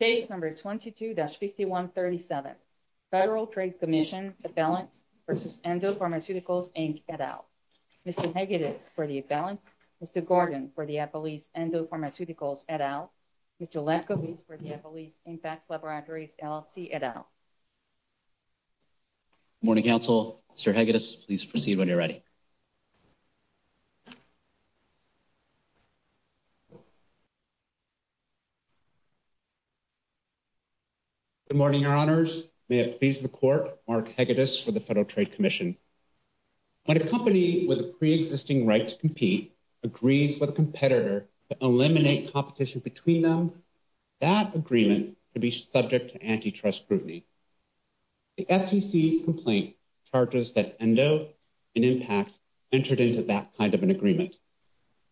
Page number 22-5137, Federal Trade Commission Affiliate v. Endo Pharmaceuticals Inc. et al. Mr. Hegadis for the Affiliate, Mr. Gordon for the Appalachian Endo Pharmaceuticals et al. Mr. Lefkowitz for the Appalachian Impact Laboratories LLC et al. Good morning, counsel. Mr. Hegadis, please proceed when you're ready. Good morning, Your Honors. May it please the Court, Mark Hegadis for the Federal Trade Commission. When a company with a pre-existing right to compete agrees with a competitor to eliminate competition between them, that agreement could be subject to antitrust scrutiny. The FCC complaint charges that Endo and Impact entered into that kind of an agreement.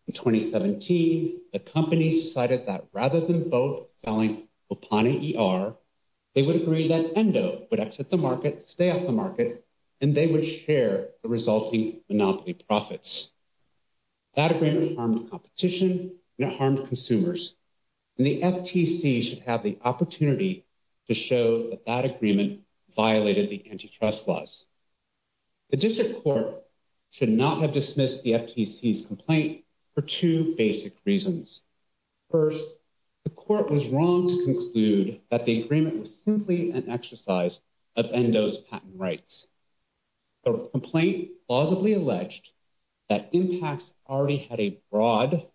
In 2017, the company decided that rather than vote vowing upon an ER, they would agree that Endo would exit the market, stay off the market, and they would share the resulting monopoly profits. That agreement harmed competition and it harmed consumers. And the FTC should have the opportunity to show that that agreement violated the antitrust laws. The District Court should not have dismissed the FTC's complaint for two basic reasons. First, the Court was wrong to conclude that the agreement was simply an exercise of Endo's patent rights. The complaint plausibly alleged that Impact already had a broad,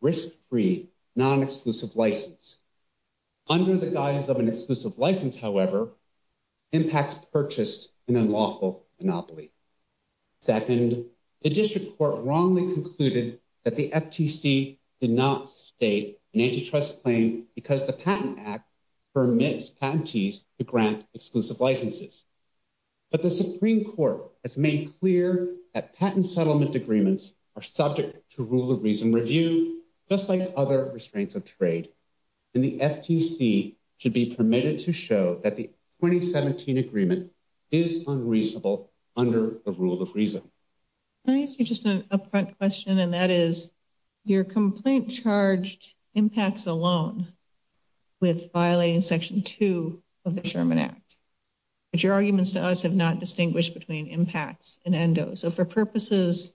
risk-free, non-exclusive license. Under the guidance of an exclusive license, however, Impact purchased an unlawful monopoly. Second, the District Court wrongly concluded that the FTC did not state an antitrust claim because the Patent Act permits patentees to grant exclusive licenses. But the Supreme Court has made clear that patent settlement agreements are subject to rule of reason and review, just like other restraints of trade, and the FTC should be permitted to show that the 2017 agreement is unreasonable under the rule of reason. Can I ask you just an up-front question, and that is, your complaint charged Impact alone with violating Section 2 of the Sherman Act, but your arguments to us have not distinguished between Impact and Endo. So for purposes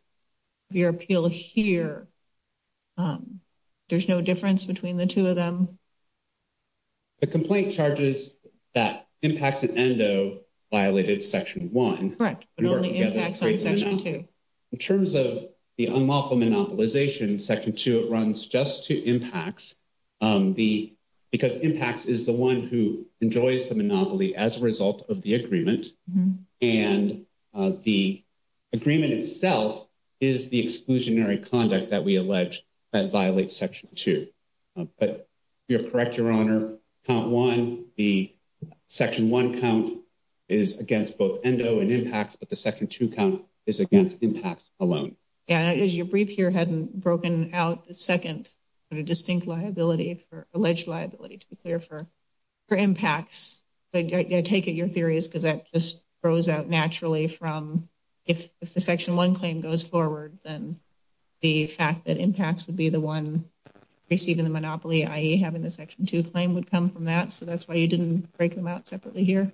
of your appeal here, there's no difference between the two of them? The complaint charges that Impact and Endo violated Section 1. Correct, but only Impact violated Section 2. In terms of the unlawful monopolization, Section 2, it runs just to Impact, because Impact is the one who enjoys the monopoly as a result of the agreement, and the agreement itself is the exclusionary conduct that we allege that violates Section 2. But you're correct, Your Honor, Count 1, the Section 1 count is against both Endo and Impact, but the Section 2 count is against Impact alone. And your brief here hadn't broken out the second distinct liability, alleged liability, to be clear, for Impact, but I take it your theory is because that just grows out naturally from, if the Section 1 claim goes forward, then the fact that Impact would be the one receiving the monopoly, i.e. having the Section 2 claim would come from that, so that's why you didn't break them out separately here?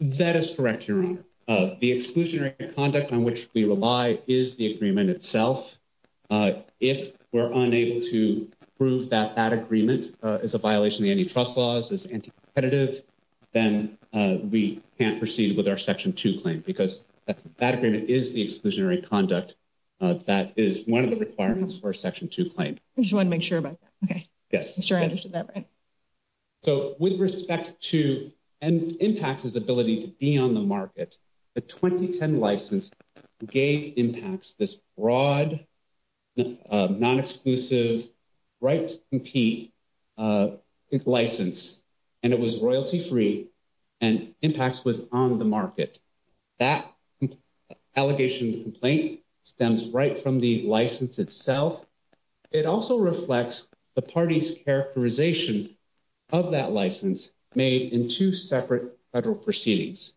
That is correct, Your Honor. The exclusionary conduct on which we rely is the agreement itself. If we're unable to prove that that agreement is a violation of any trust laws, is anti-competitive, then we can't proceed with our Section 2 claim, because that agreement is the exclusionary conduct that is one of the requirements for a Section 2 claim. You want to make sure about that, okay. Yes. I'm sure I understood that right. So, with respect to Impact's ability to be on the market, the 2010 license gave Impact this broad, non-exclusive, right-to-compete license, and it was royalty-free, and Impact was on the market. That allegation complaint stems right from the license itself. It also reflects the party's characterization of that license made in two separate federal proceedings.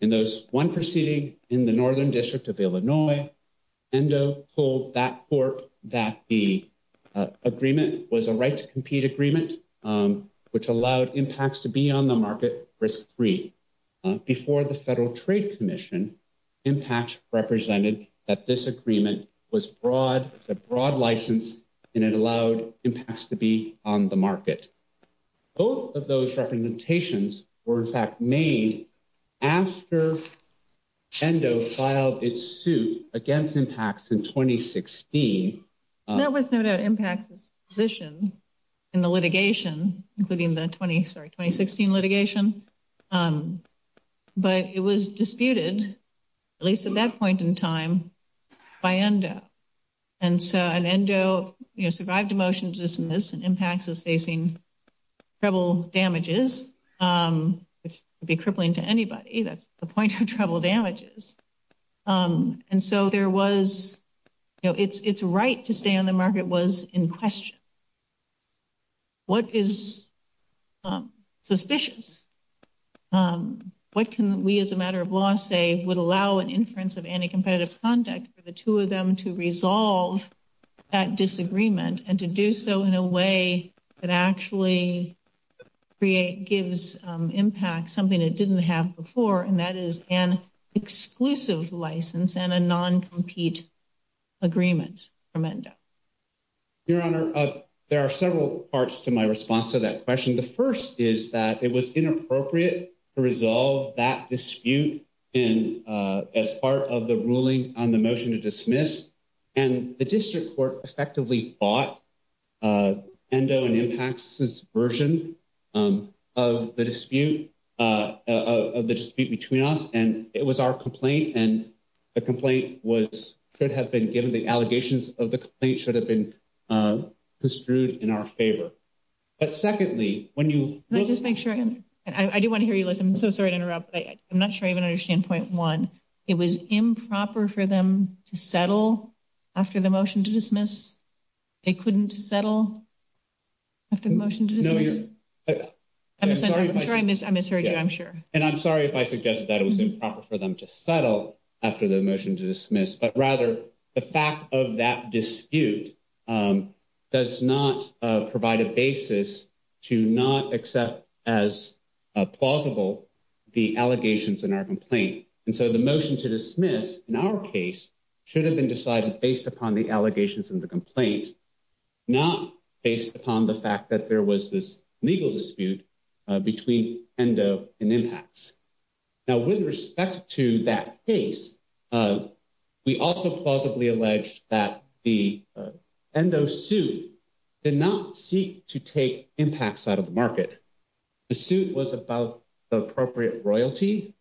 In those one proceeding in the Northern District of Illinois, Endo told that court that the agreement was a right-to-compete agreement, which allowed Impact to be on the market risk-free. Before the Federal Trade Commission, Impact represented that this agreement was a broad license, and it allowed Impact to be on the market. Both of those representations were, in fact, made after Endo filed its suit against Impact in 2016. That was Endo's position in the litigation, including the 2016 litigation, but it was disputed, at least at that point in time, by Endo. And so, Endo, you know, survived a motion to dismiss, and Impact is facing treble damages, which would be crippling to anybody. That's the point of treble damages. And so, there was, you know, its right to stay on the market. What can we, as a matter of law, say would allow an inference of anti-competitive conduct for the two of them to resolve that disagreement and to do so in a way that actually gives Impact something it didn't have before, and that is an exclusive license and a non-compete agreement from Endo? Your Honor, there are several parts to my to resolve that dispute as part of the ruling on the motion to dismiss, and the district court respectively fought Endo and Impact's version of the dispute between us, and it was our complaint, and the complaint could have been given. The allegations of the complaint should have been disproved in our favor. But secondly, when you... Can I just make sure? I do want to hear you listen. I'm so sorry to interrupt, but I'm not sure I even understand point one. It was improper for them to settle after the motion to dismiss? They couldn't settle after the motion to dismiss? No, Your Honor. I'm sorry if I... I'm sorry, I misheard you, I'm sure. And I'm sorry if I suggest that it was improper for them to settle after the motion to dismiss, but rather the fact of that dispute does not provide a basis to not accept as plausible the allegations in our complaint. And so the motion to dismiss in our case should have been decided based upon the allegations in the complaint, not based upon the fact that there was this legal dispute between Endo and Impact. Now, with respect to that case, we also plausibly alleged that the Endo suit did not seek to take Impact out of the market. The suit was about the appropriate royalty.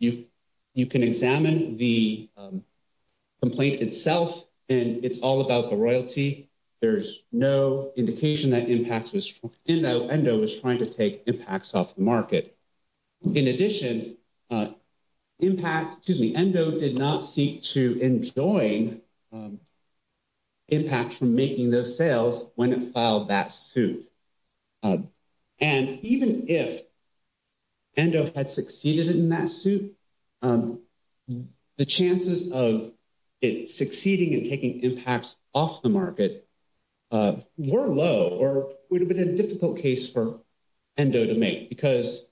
You can examine the complaint itself, and it's all about the royalty. There's no indication that Endo was trying to take Impact off the market. In addition, Impact, excuse me, Endo did not seek to enjoin Impact from making those sales when it filed that suit. And even if Endo had succeeded in that suit, the chances of it succeeding in taking Impact off the market were low or would have been a difficult case for Endo to make because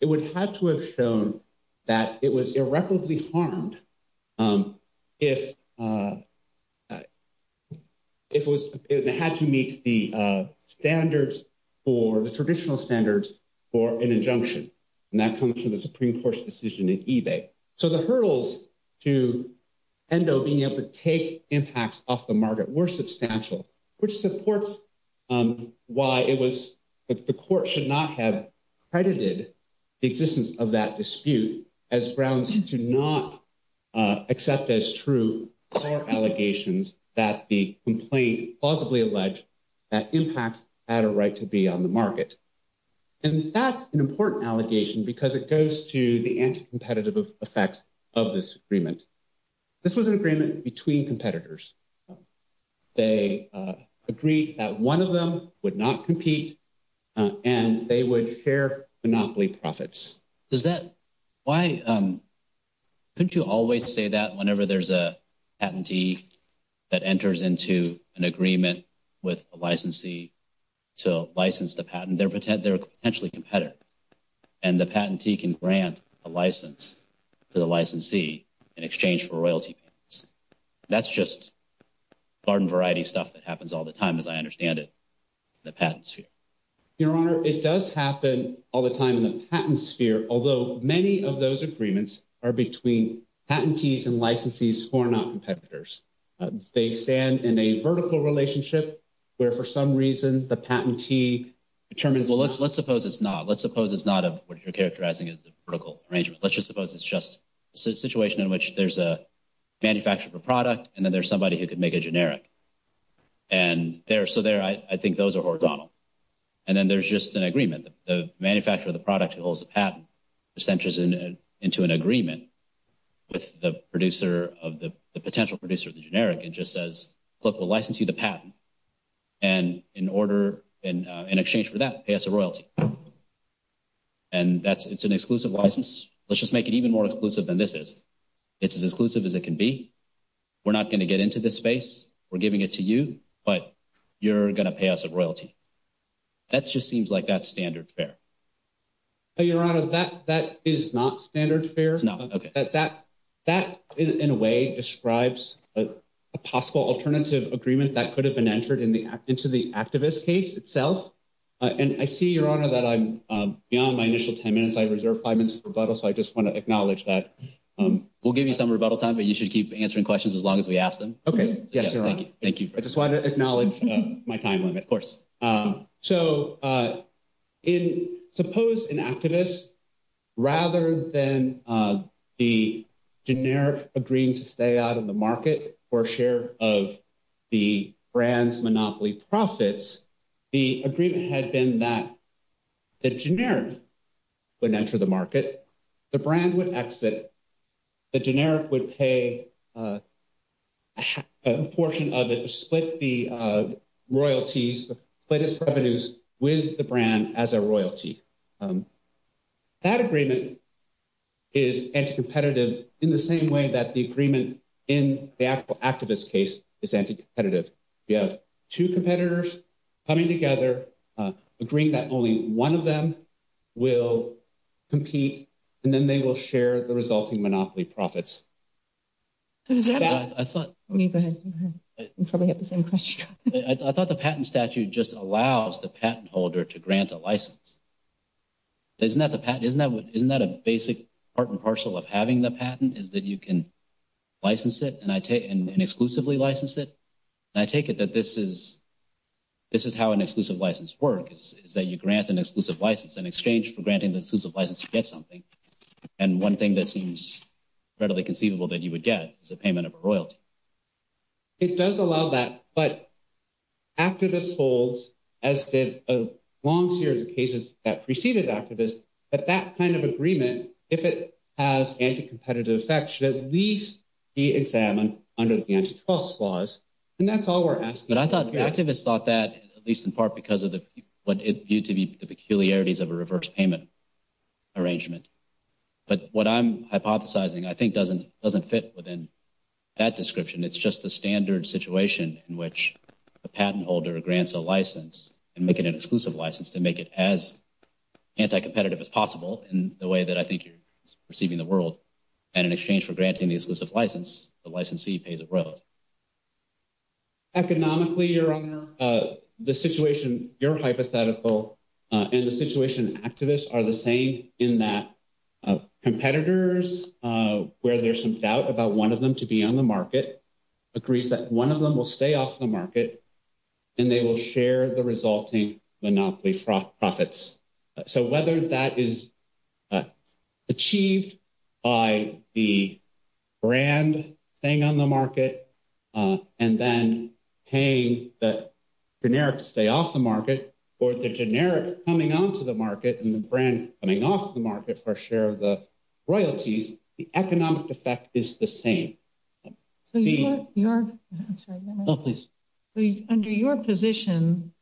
it would have to have shown that it was irreparably harmed if it had to meet the standards or the traditional standards for an injunction. And that comes from the Supreme Court's decision in eBay. So the hurdles to Endo being able to take Impact off the market were substantial, which supports why it was that the court should not have credited the existence of that dispute as grounds to not accept as true our allegations that the complaint plausibly alleged that Impact had a right to be on the market. And that's an important allegation because it goes to the anti-competitive effects of this agreement. This was an agreement between competitors. They agreed that one of them would not compete, and they would share monopoly profits. Why couldn't you always say that whenever there's a patentee that enters into an agreement with a licensee to license the patent? They're potentially competitive, and the patentee can grant a license to the licensee in exchange for royalty. That's just garden variety stuff that happens all the time, as I understand it, in the patent sphere. Your Honor, it does happen all the time in the patent sphere, although many of those agreements are between patentees and licensees who are not competitors. They stand in a vertical relationship where, for some reason, the patentee determines, well, let's suppose it's not. Let's suppose it's not what you're characterizing as the vertical arrangement. Let's just suppose it's just a situation in which there's a manufacturer of a product, and then there's somebody who could make a generic. And so there, I think those are organo. And then there's just an agreement. The manufacturer of the generic just says, look, we'll license you the patent, and in exchange for that, pay us a royalty. And it's an exclusive license. Let's just make it even more exclusive than this is. It's as inclusive as it can be. We're not going to get into this space. We're giving it to you, but you're going to pay us a royalty. That just seems like that's standard fare. So, Your Honor, that is not standard fare. No. Okay. That, in a way, describes a possible alternative agreement that could have been entered into the activist case itself. And I see, Your Honor, that I'm beyond my initial time limit. I reserve five minutes for rebuttal, so I just want to acknowledge that. We'll give you some rebuttal time, but you should keep answering questions as long as we ask them. Okay. Yes, Your Honor. Thank you. I just wanted to acknowledge my time limit, of course. So, suppose an activist, rather than the generic agreement to stay out of the market for a share of the brand's monopoly profits, the agreement had been that the generic would enter the market, the brand would exit, the generic would pay a portion of it to split the royalties, split its revenues with the brand as a royalty. That agreement is anti-competitive in the same way that the agreement in the activist case is anti-competitive. You have two competitors coming together, agreeing that only one of them will compete, and then they will share the resulting monopoly profits. Let me go ahead. You probably have the same question. I thought the patent statute just allows the patent holder to grant a license. Isn't that the patent? Isn't that a basic part and parcel of having the patent, is that you can license it and exclusively license it? I take it that this is how an exclusive license works, is that you grant an exclusive license in exchange for granting the exclusive license to get something, and one thing that seems readily conceivable that you would get is a payment of a royalty. It does allow that, but activist holds, as did a long series of cases that preceded activists, that that kind of agreement, if it has anti-competitive effects, should at least be examined under the antitrust clause, and that's all we're asking. I thought the activists thought that, at least in part because of what it viewed to be the peculiarities of a reverse payment arrangement, but what I'm hypothesizing I think doesn't fit within that description. It's just the standard situation in which a patent holder grants a license and making an exclusive license to make it as anti-competitive as possible in the way that I think you're perceiving the world, and in exchange for granting the exclusive license, the licensee pays a royalty. Economically, your honor, the situation you're hypothetical and the situation activists are the same in that competitors, where there's some doubt about one of them to be on the market, agrees that one of them will stay off the market, and they will share the resulting monopoly profits. So whether that is achieved by the brand staying on the market and then paying the generic to stay off the market, or the generic coming onto the market and the brand coming off the market for share of the royalties, the economic effect is the same. Under your position,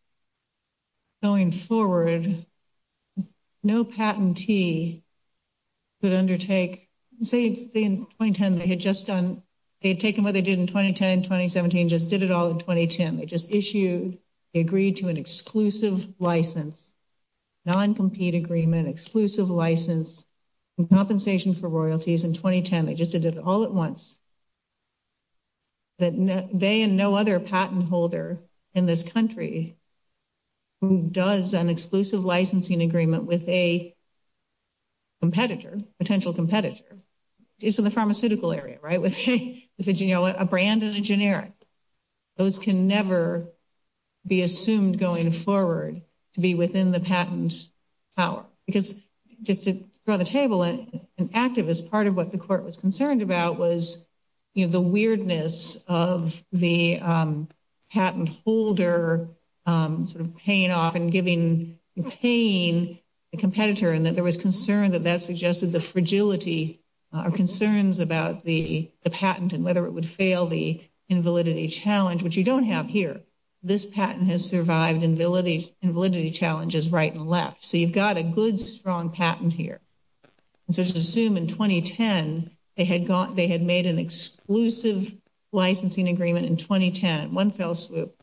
going forward, no patentee could undertake, say in 2010, they had just done, they had taken what they did in 2010, 2017, just did it all in 2010. They just issued, they agreed to an exclusive license, non-compete agreement, exclusive license, and compensation for royalties in 2010. They just did it all at once. They and no other patent holder in this country who does an exclusive licensing agreement with a competitor, potential competitor, it's in the pharmaceutical area, right? With a, you know, a brand and a generic. Those can never be assumed going forward to be within the patent's power. Because just to throw the table, an activist, part of what the court was concerned about was, you know, the weirdness of the patent holder sort of paying off and giving and paying the competitor. And that there was concern that that suggested the fragility or concerns about the patent and whether it would fail the invalidity challenge, which you don't have here. This patent has survived invalidity challenges right and left. So you've got a good, strong patent here. Just assume in 2010, they had made an exclusive licensing agreement in 2010. One fell swoop.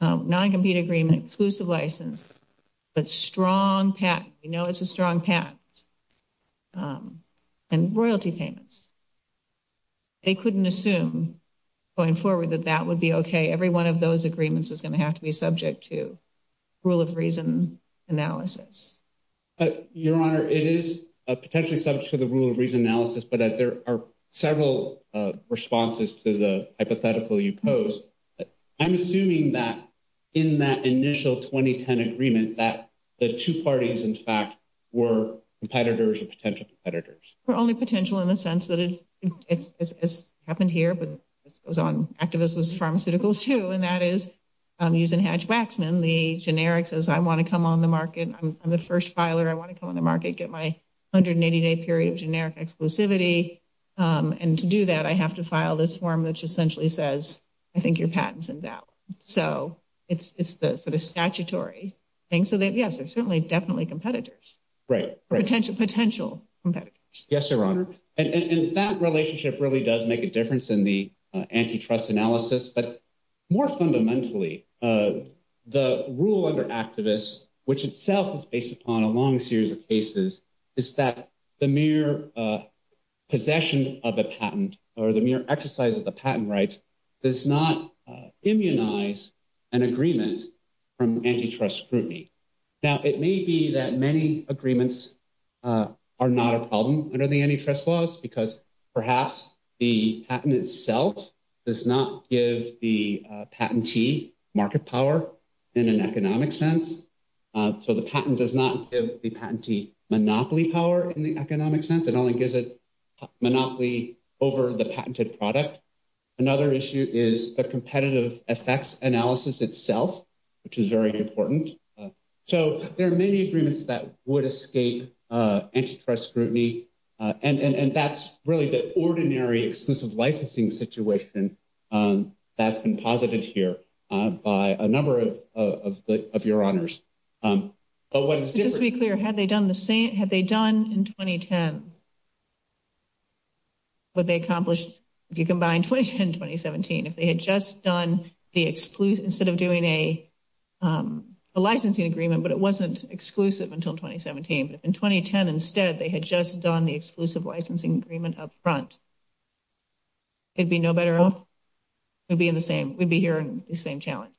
Non-compete agreement, exclusive license, but strong patent. You know it's a strong patent. And royalty payments. They couldn't assume going forward that that would be okay. Every one of those agreements is going to have to be subject to rule of reason analysis. Your Honor, it is potentially subject to the rule of reason analysis, but there are several responses to the hypothetical you posed. I'm assuming that in that initial 2010 agreement that the two parties, in fact, were competitors or potential competitors. Only potential in the sense that it's happened here, but it was on activist pharmaceuticals too. And that is using Hatch-Waxman, the generic says, I want to come on the market. I'm the first filer. I want to come on the market, get my 180-day period of generic exclusivity. And to do that, I have to file this form, which essentially says, I think your patent's in doubt. So it's the sort of statutory thing. So that, yes, they're certainly definitely competitors. Right. Potential competitors. Yes, Your Honor. And that relationship really does make a difference in the antitrust analysis. But more fundamentally, the rule under activists, which itself is based upon a long series of cases, is that the mere possession of a patent or the mere exercise of the patent rights does not immunize an agreement from antitrust scrutiny. Now, it may be that many agreements are not a problem under the antitrust laws because perhaps the patent itself does not give the market power in an economic sense. So the patent does not give the patentee monopoly power in the economic sense. It only gives it monopoly over the patented product. Another issue is the competitive effects analysis itself, which is very important. So there are many agreements that would escape antitrust scrutiny. And that's really the ordinary licensing situation that's been posited here by a number of your honors. Just to be clear, had they done the same, had they done in 2010, would they accomplish, if you combine 2010 and 2017, if they had just done the exclusive, instead of doing a licensing agreement, but it wasn't exclusive until 2017. If in 2010, instead, they had just done the exclusive licensing agreement up front, it'd be no better off. We'd be in the same, we'd be here in the same challenge.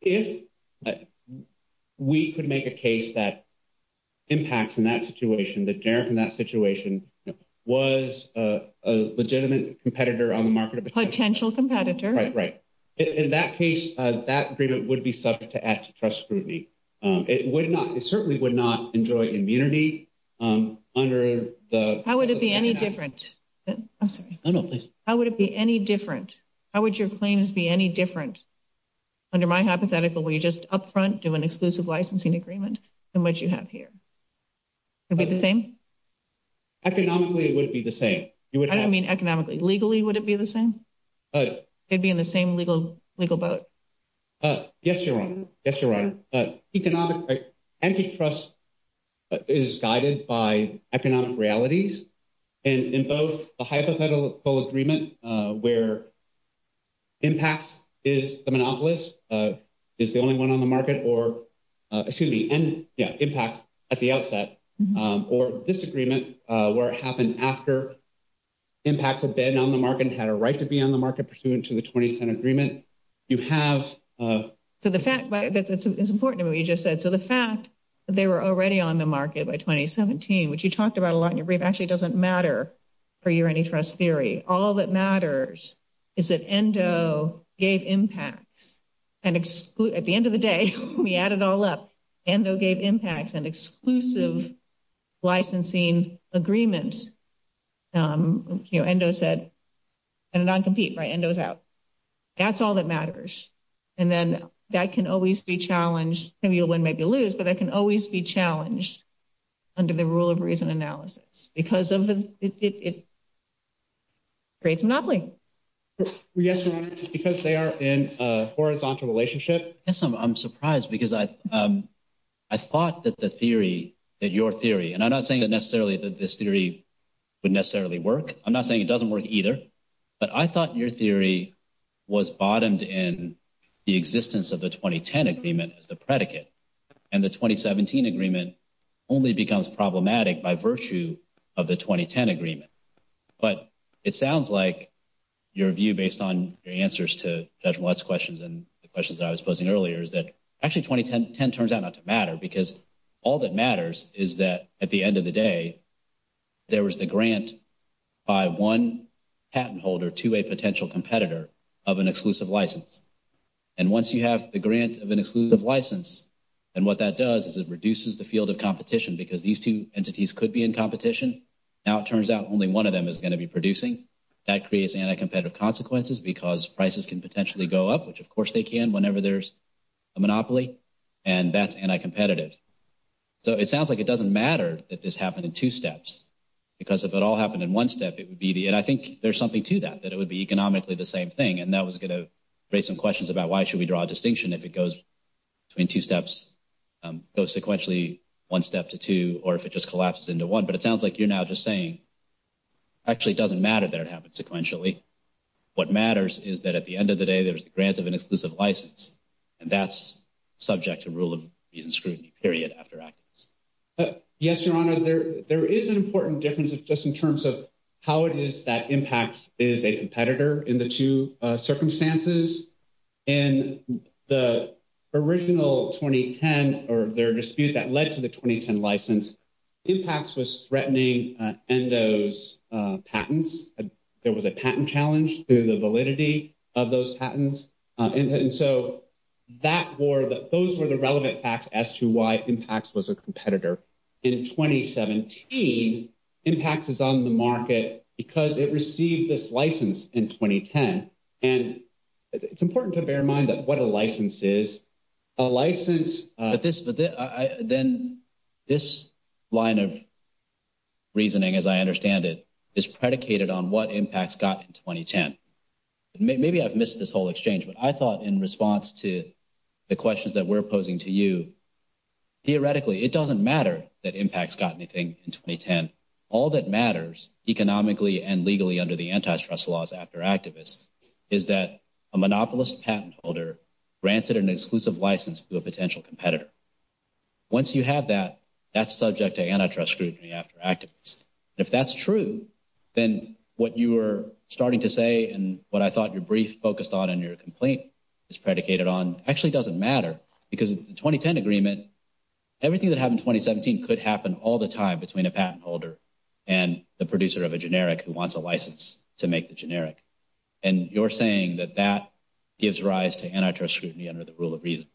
If we could make a case that impacts in that situation, that in that situation was a legitimate competitor on the market. Potential competitor. Right, right. In that case, that agreement would be subject to antitrust scrutiny. It would not, it certainly would not enjoy immunity under the- How would it be any different? I'm sorry. How would it be any different? How would your claims be any different under my hypothetical where you just up front do an exclusive licensing agreement than what you have here? Would it be the same? Economically, it would be the same. I don't mean economically. Legally, would it be the same? They'd be in the same legal boat. Yes, Your Honor. Yes, Your Honor. Antitrust is guided by economic realities and in both the hypothetical agreement where impact is the monopolist, is the only one on the market, or excuse me, impact at the outset, or this agreement where it happened after impact had been on the market and had a right to be on the market pursuant to the 2010 agreement, you have- So the fact, it's important what you just said. So the fact that they were already on the market by 2017, which you talked about a lot in your brief, actually doesn't matter for your antitrust theory. All that matters is that ENDO gave impact and at the end of the day, we add it all up, ENDO gave impacts and exclusive licensing agreements. You know, ENDO said, and non-compete, right? ENDO's out. That's all that matters. And then that can always be challenged. Maybe you'll win, maybe you'll lose, but it can always be challenged under the rule of reason analysis because it creates a monopoly. Yes, Your Honor, because they are in a horizontal relationship. Yes, I'm surprised because I thought that the theory, that your theory, and I'm not saying that necessarily this theory would necessarily work. I'm not saying it doesn't work either, but I thought your theory was bottomed in the existence of the 2010 agreement as the predicate. And the 2017 agreement only becomes problematic by virtue of the 2010 agreement. But it sounds like your view based on your answers to Judge Millett's questions and the questions that I was posing earlier is that actually 2010 turns out not to matter because all that matters is that at the end of the day, there was the grant by one patent holder to a potential competitor of an exclusive license. And once you have the grant of an exclusive license, and what that does is it reduces the field of competition because these two entities could be in competition. Now it turns out only one of them is going to be producing. That creates anti-competitive consequences because prices can potentially go up, which of course they can whenever there's a monopoly, and that's anti-competitive. So it sounds like it doesn't matter that this happened in two steps because if it all happened in one step, it would be the, and I think there's something to that, that it would be economically the same thing. And that was going to raise some questions about why should we draw a distinction if it goes between two steps, goes sequentially one step to two, or if it just collapses into one. But it sounds like you're now just saying actually it doesn't matter that it happens sequentially. What matters is that at the end of the day there's the grant of an exclusive license, and that's subject to rule of reason scrutiny period after access. Yes, Your Honor, there is an important difference just in terms of how it is that Impacts is a competitor in the two circumstances. In the original 2010, or their dispute that led to the 2010 license, Impacts was threatening Endo's patents. There was a patent challenge to the validity of those patents. And so that war, those were the relevant facts as to why Impacts was a competitor. In 2017, Impacts is on the market because it received this license in 2010. And it's important to bear in mind that what a license is. A license, then this line of patents, is subject to anti-trust scrutiny in 2010. Maybe I've missed this whole exchange, but I thought in response to the questions that we're posing to you, theoretically it doesn't matter that Impacts got anything in 2010. All that matters economically and legally under the anti-trust laws after activists is that a monopolist patent holder granted an exclusive license to a potential competitor. Once you have that, that's subject to anti-trust scrutiny after activists. If that's true, then what you were starting to say and what I thought your brief focused on and your complaint is predicated on actually doesn't matter. Because in the 2010 agreement, everything that happened in 2017 could happen all the time between a patent holder and the producer of a generic who wants a license to make the generic. And you're saying that that gives rise to anti-trust scrutiny under the rule of reason.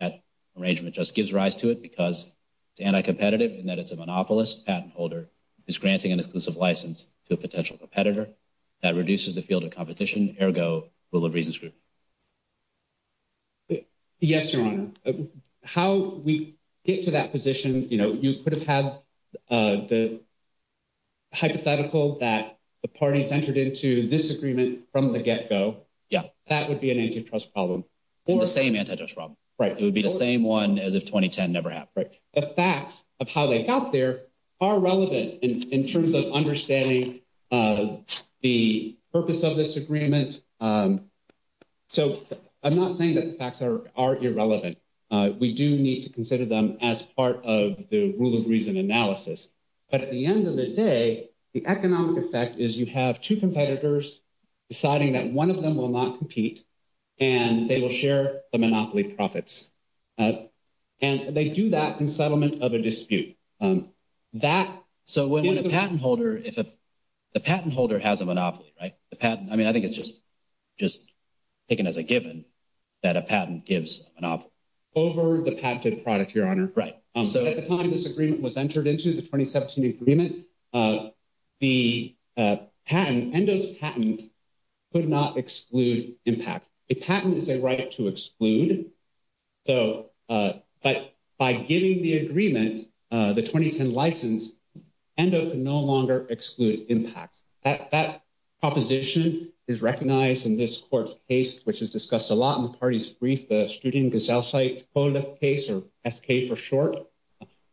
That arrangement just gives rise to it because it's anti-competitive in that it's a monopolist patent holder who's granting an exclusive license to a potential competitor. That reduces the field of competition, ergo, rule of reasons scrutiny. Yes, Your Honor. How we get to that position, you know, you could have had the hypothetical that the parties entered into this agreement from the get-go. Yeah. That would be an anti-trust problem. The same anti-trust problem. Right. It would be the same one as if 2010 never happened. The facts of how they got there are relevant in terms of understanding the purpose of this agreement. So I'm not saying that the facts are irrelevant. We do need to consider them as part of the rule of reason analysis. But at the end of the day, the economic effect is you have two competitors deciding that one of them will not compete and they will share the monopoly profits. And they do that in settlement of a dispute. So when a patent holder, the patent holder has a monopoly, right? I mean, I think it's just taken as a given that a patent gives a monopoly. Over the patented product, Your Honor. Right. So at the time this agreement was entered into, the 2017 agreement, the patent, ENDO's patent could not exclude impact. The patent is a right to exclude. But by giving the agreement, the 2010 license, ENDO can no longer exclude impact. That proposition is recognized in this court's case, which is discussed a lot in the party's Studiengesellschaft case, or SK for short.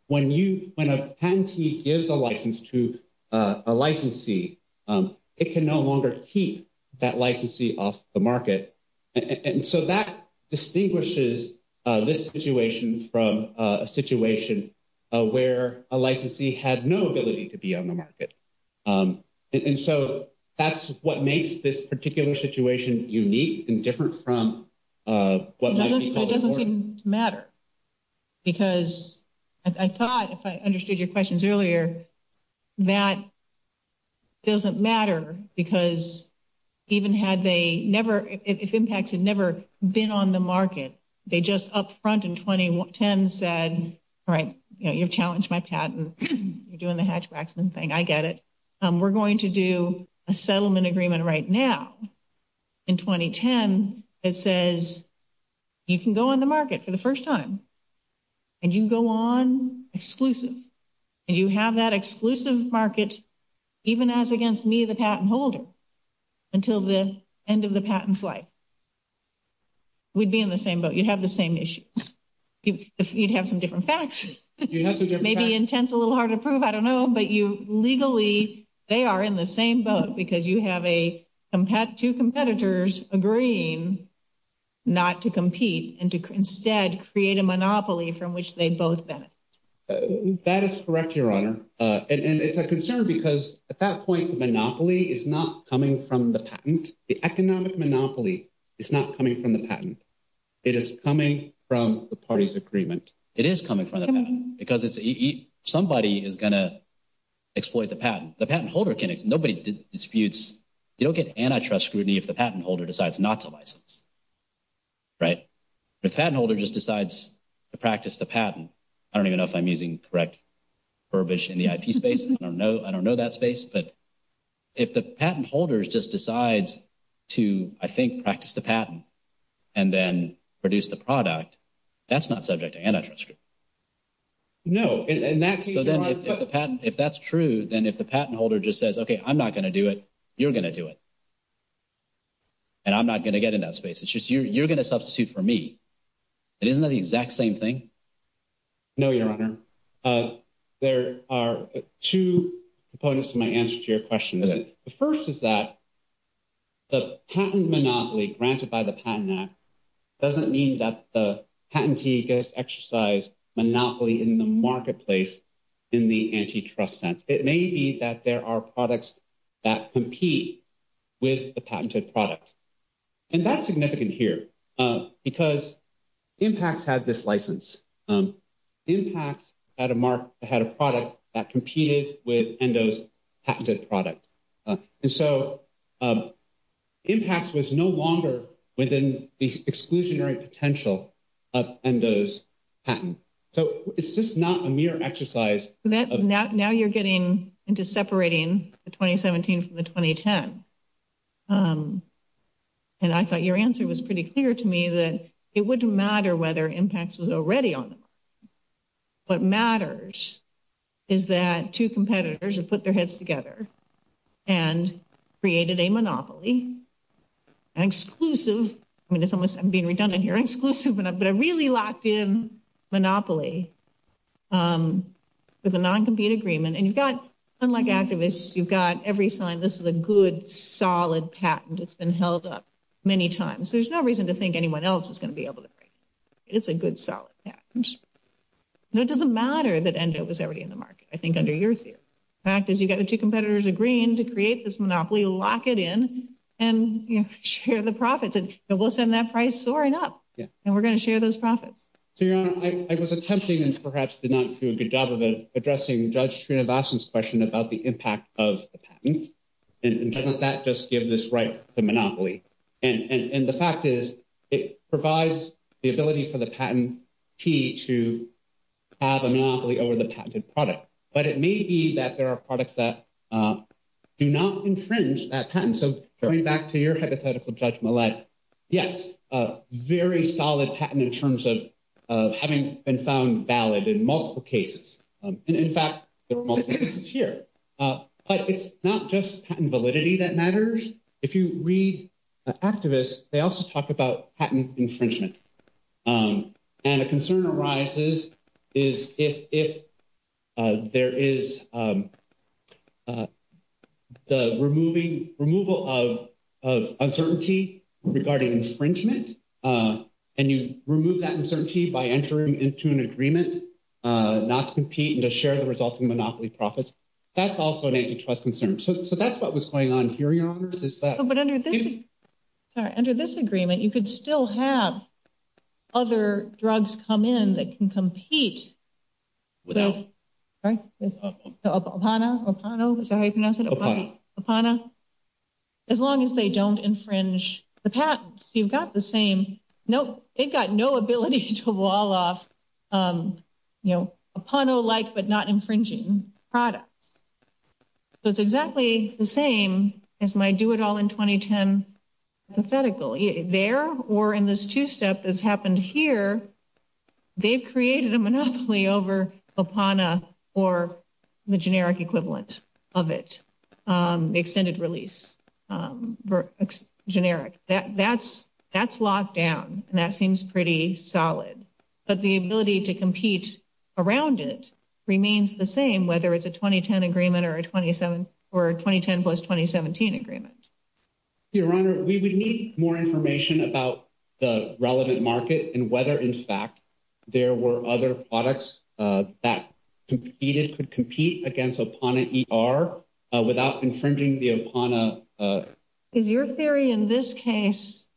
When a patentee gives a license to a licensee, it can no longer keep that licensee off the market. And so that distinguishes this situation from a situation where a licensee had no ability to be on the market. And so that's what makes this doesn't seem to matter. Because I thought, if I understood your questions earlier, that doesn't matter because even had they never, if impact had never been on the market, they just up front in 2010 said, all right, you know, you've challenged my patent. You're doing the Hatch-Waxman thing. I get it. We're going to do a settlement agreement right now. In 2010, it says you can go on the market for the first time. And you go on exclusive. And you have that exclusive market, even as against me, the patent holder, until the end of the patent flight. We'd be in the same boat. You'd have the same issues. You'd have some different facts. Maybe intent's a little hard to prove. I don't know. But you have two competitors agreeing not to compete and to instead create a monopoly from which they both benefit. That is correct, Your Honor. And it's a concern because at that point, the monopoly is not coming from the patent. The economic monopoly is not coming from the patent. It is coming from the party's agreement. It is coming from the patent because somebody is going to exploit the patent. They'll get antitrust scrutiny if the patent holder decides not to license. The patent holder just decides to practice the patent. I don't even know if I'm using correct verbiage in the IP space. I don't know that space. But if the patent holder just decides to, I think, practice the patent and then produce the product, that's not subject to antitrust scrutiny. If that's true, then if the patent holder just says, okay, I'm not going to do it, you're going to do it. And I'm not going to get in that space. It's just you're going to substitute for me. Isn't that the exact same thing? No, Your Honor. There are two components to my answer to your question. The first is that the patent monopoly granted by the Patent Act doesn't mean that the patentee gets to exercise monopoly in the marketplace in the antitrust sense. It may be that there are products that compete with the patented product. And that's significant here because IMPACT had this license. IMPACT had a product that competed with ENDO's patented product. So IMPACT was no longer within the exclusionary potential of ENDO's patent. So it's just not a getting into separating the 2017 from the 2010. And I thought your answer was pretty clear to me that it wouldn't matter whether IMPACT was already on the market. What matters is that two competitors have put their heads together and created a monopoly, an exclusive, I'm being redundant but a really locked in monopoly with a non-compete agreement. And you've got, unlike activists, you've got every sign this is a good, solid patent that's been held up many times. There's no reason to think anyone else is going to be able to break it. It's a good, solid patent. It doesn't matter that ENDO was already in the market, I think under your theory. The fact is you've got the two competitors agreeing to create this monopoly, lock it in, and share the profits. And we'll send that price soaring up, and we're going to share those profits. So, Your Honor, I was attempting perhaps to not do a good job of addressing Judge Srinivasan's question about the impact of the patent. And doesn't that just give this right to monopoly? And the fact is it provides the ability for the patentee to have a monopoly over the patented product. But it may be that there are products that do not infringe that patent. So, going back to your hypothetical, Judge Millett, yes, very solid patent in terms of having been found valid in multiple cases. And in fact, there are multiple cases here. But it's not just patent validity that matters. If you read activists, they also talk about patent infringement. And a concern arises is if there is the removal of uncertainty regarding infringement, and you remove that uncertainty by entering into an agreement not to compete and to share the resulting monopoly profits, that's also an antitrust concern. So, that's what was going on But under this agreement, you could still have other drugs come in that can compete. As long as they don't infringe the patent. So, you've got the same, no, it got no ability to wall off, you know, APANO-like but not infringing products. So, it's exactly the same as my do-it-all-in-2010 hypothetical. There or in this two-step that's happened here, they've created a monopoly over APANO or the generic equivalent of it, the extended release generic. That's locked down, and that seems pretty solid. But the ability to agreement or a 2010 plus 2017 agreement. Your Honor, we would need more information about the relevant market and whether, in fact, there were other products that could compete against APANO-ER without infringing the APANO. Is your theory in this case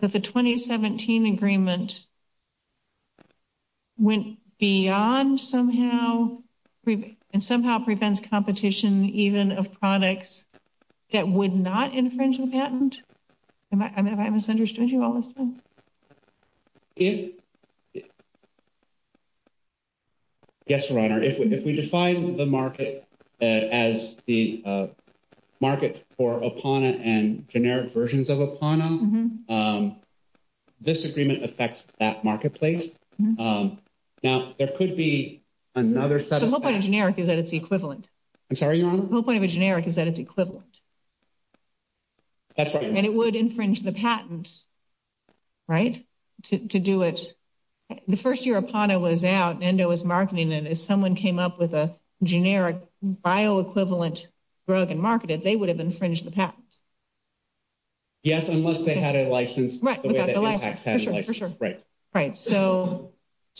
that the 2017 agreement went beyond somehow and somehow prevents competition even of products that would not infringe a patent? Have I misunderstood you all this time? Yes, Your Honor. If we define the market as the market for APANO and generic versions of APANO, um, this agreement affects that marketplace. Now, there could be another... So, what part of generic is that it's equivalent? I'm sorry, Your Honor? What part of a generic is that it's equivalent? That's right. And it would infringe the patent, right, to do it. The first year APANO was out and there was marketing, and if someone came up with a generic bio-equivalent drug and marketed it, they would infringe the patent. Yes, unless they had a license. Right, without the license. For sure, for sure. Right. So,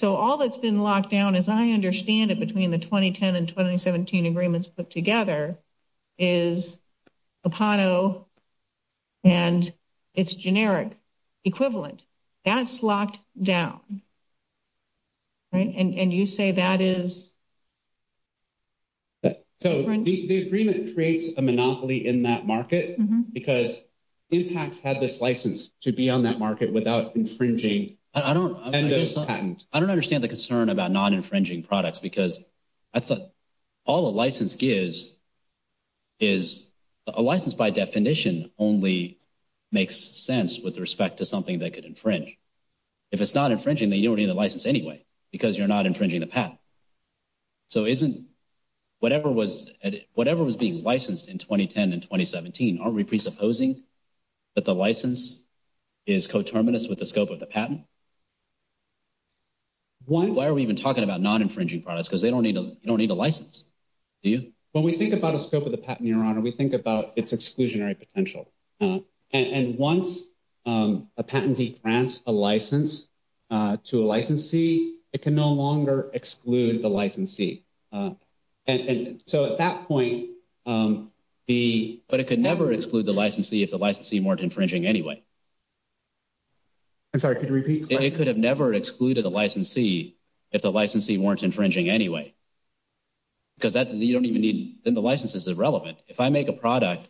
all that's been locked down, as I understand it, between the 2010 and 2017 agreements put together is APANO and its generic equivalent. That's locked down, right? And you say that is... So, the agreement creates a monopoly in that market because these patents had this license to be on that market without infringing... I don't understand the concern about non-infringing products because all a license gives is... A license, by definition, only makes sense with respect to something that could infringe. If it's not infringing, then you don't need a license anyway because you're not infringing the patent. So, isn't... Whatever was being licensed in 2010 and 2017, aren't we presupposing that the license is coterminous with the scope of the patent? Why are we even talking about non-infringing products? Because they don't need a license. Do you? When we think about the scope of the patent, Your Honor, we think about its exclusionary potential. And once a patentee grants a license to a licensee, it can no longer exclude the licensee. And so, at that point, but it could never exclude the licensee if the licensee weren't infringing anyway. I'm sorry, could you repeat the question? It could have never excluded the licensee if the licensee weren't infringing anyway because that's... You don't even need... Then the license is irrelevant. If I make a product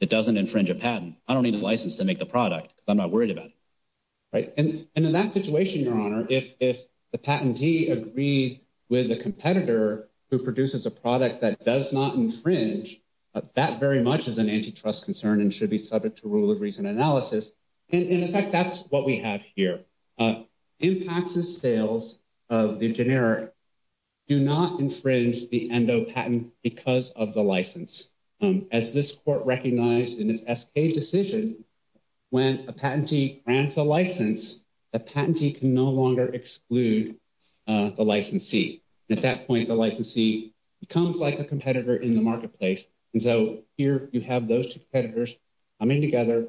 that doesn't infringe a patent, I don't need a license to make the product because I'm not worried about it. Right? And in that situation, Your Honor, if the patentee agreed with the competitor who produces a product that does not infringe, that very much is an antitrust concern and should be subject to rule of reason analysis. And in fact, that's what we have here. Impacts and sales of the generic do not infringe the ENDO patent because of the license. As this court recognized in its decision, when a patentee grants a license, a patentee can no longer exclude the licensee. At that point, the licensee becomes like a competitor in the marketplace. And so, here you have those two competitors coming together,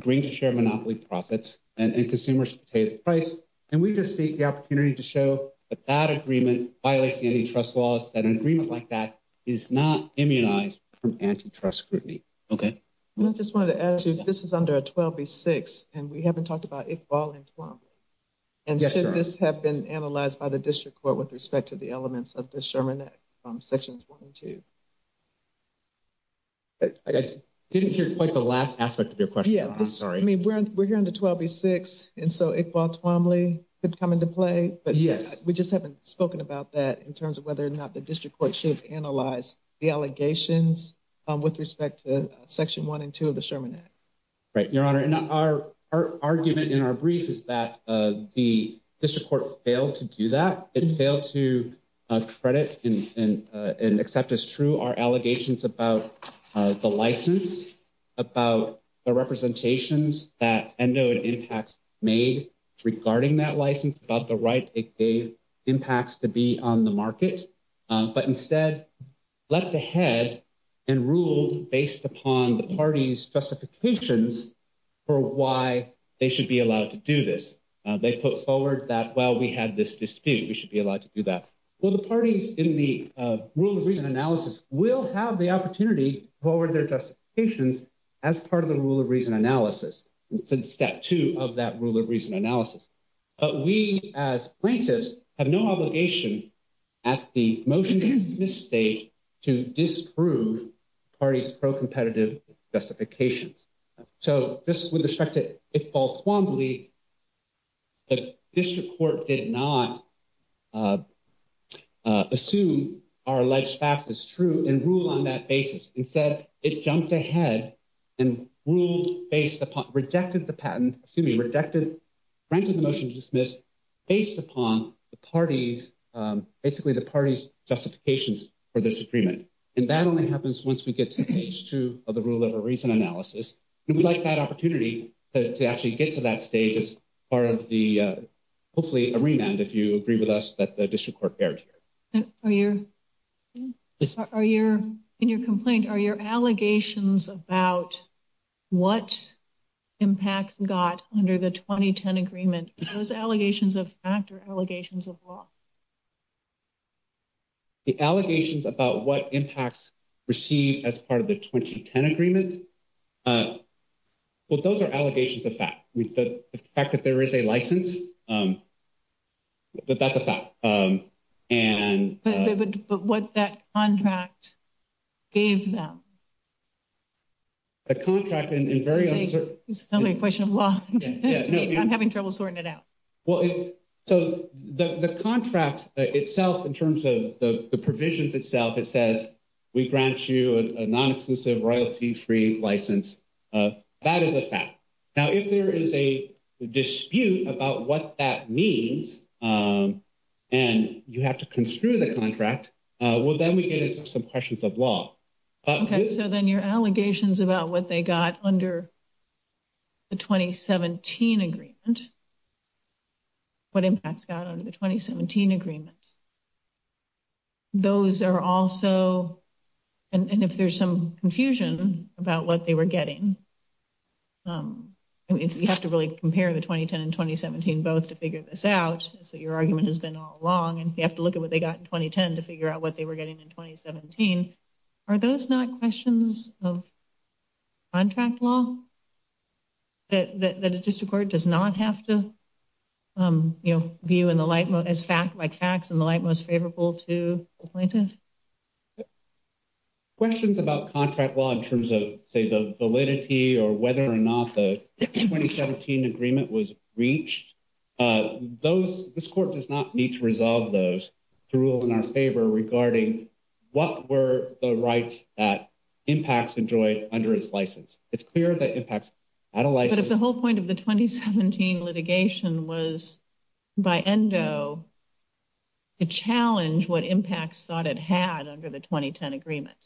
agreeing to share monopoly profits and consumers to pay the price. And we just take the opportunity to show that that agreement violates the antitrust laws, that an agreement like that is not immunized from antitrust scrutiny. Okay. I just want to add to this. This is under 12B6, and we haven't talked about Iqbal and Tuamli. And should this have been analyzed by the district court with respect to the elements of this charmenette from section 22? I didn't hear quite the last aspect of your question. I'm sorry. I mean, we're here under 12B6, and so Iqbal and Tuamli could come into play, but we just haven't spoken about that in terms of whether or not the district court should analyze the allegations with respect to section 1 and 2 of the charmenette. Right, Your Honor. And our argument in our brief is that the district court failed to do that. It failed to credit and accept as true our allegations about the license, about the market. But instead, left ahead and ruled based upon the parties' specifications for why they should be allowed to do this. They put forward that, well, we had this dispute. We should be allowed to do that. Well, the parties in the rule of reason analysis will have the opportunity to forward their justifications as part of the rule of reason analysis, step two of that rule of at the motion-to-dismiss stage to disprove parties' pro-competitive specifications. So just with respect to Iqbal Tuamli, the district court did not assume our alleged facts as true and rule on that basis. Instead, it jumped ahead and ruled based upon, rejected the patent, excuse me, rejected, frankly, the motion to dismiss based upon the parties, basically the parties' justifications for this agreement. And that only happens once we get to page two of the rule of reason analysis. We'd like that opportunity to actually get to that stage as part of the, hopefully, a remand if you agree with us that the district court failed here. In your complaint, are your allegations about what impact got under the 2010 agreement, those allegations of fact or allegations of law? The allegations about what impacts received as part of the 2010 agreement, well, those are allegations of fact. The fact that there is a license, but that's a fact. And... But what that contract gave them? A contract in very uncertain... Another question of law. I'm having trouble sorting it out. Well, so the contract itself, in terms of the provisions itself, it says, we grant you a non-exclusive royalty-free license. That is a fact. Now, if there is a dispute about what that means and you have to construe the contract, well, then we get into some questions of law. Okay. So then your allegations about what they got under the 2017 agreement, what impacts got under the 2017 agreement, those are also... And if there's some confusion about what they were getting, you have to really compare the 2010 and 2017 votes to figure this out. So your argument has been all along and you have to look at what they got in 2010 to figure out what they were getting in 2017. Are those not questions of contract law that the district court does not have to view in the light... Like facts in the light most favorable to the plaintiff? Questions about contract law in terms of, say, the validity or whether or not the 2017 agreement was reached, those... This court does not need to resolve those to rule in our favor regarding what were the rights that impacts enjoyed under his license. It's clear that impacts... I don't like... But if the whole point of the 2017 litigation was by endo to challenge what impacts thought it had under the 2010 agreement.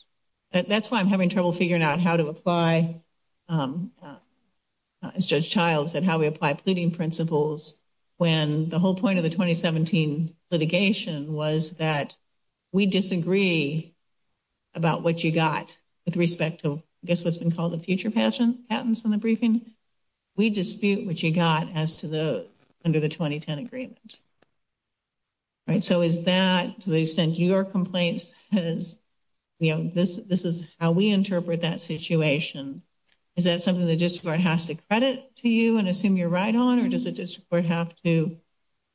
That's why I'm having trouble figuring out how to apply... As Judge Child said, how we apply pleading principles when the whole point of the 2017 litigation was that we disagree about what you got with respect to, I guess, what's been called the future patents in the briefing. We dispute what you got as to the... Under the 2010 agreement. All right. So is that... So they've sent you your complaints as, you know, this is how we interpret that situation. Is that something the district court has to credit to you and assume you're right on, or does the district court have to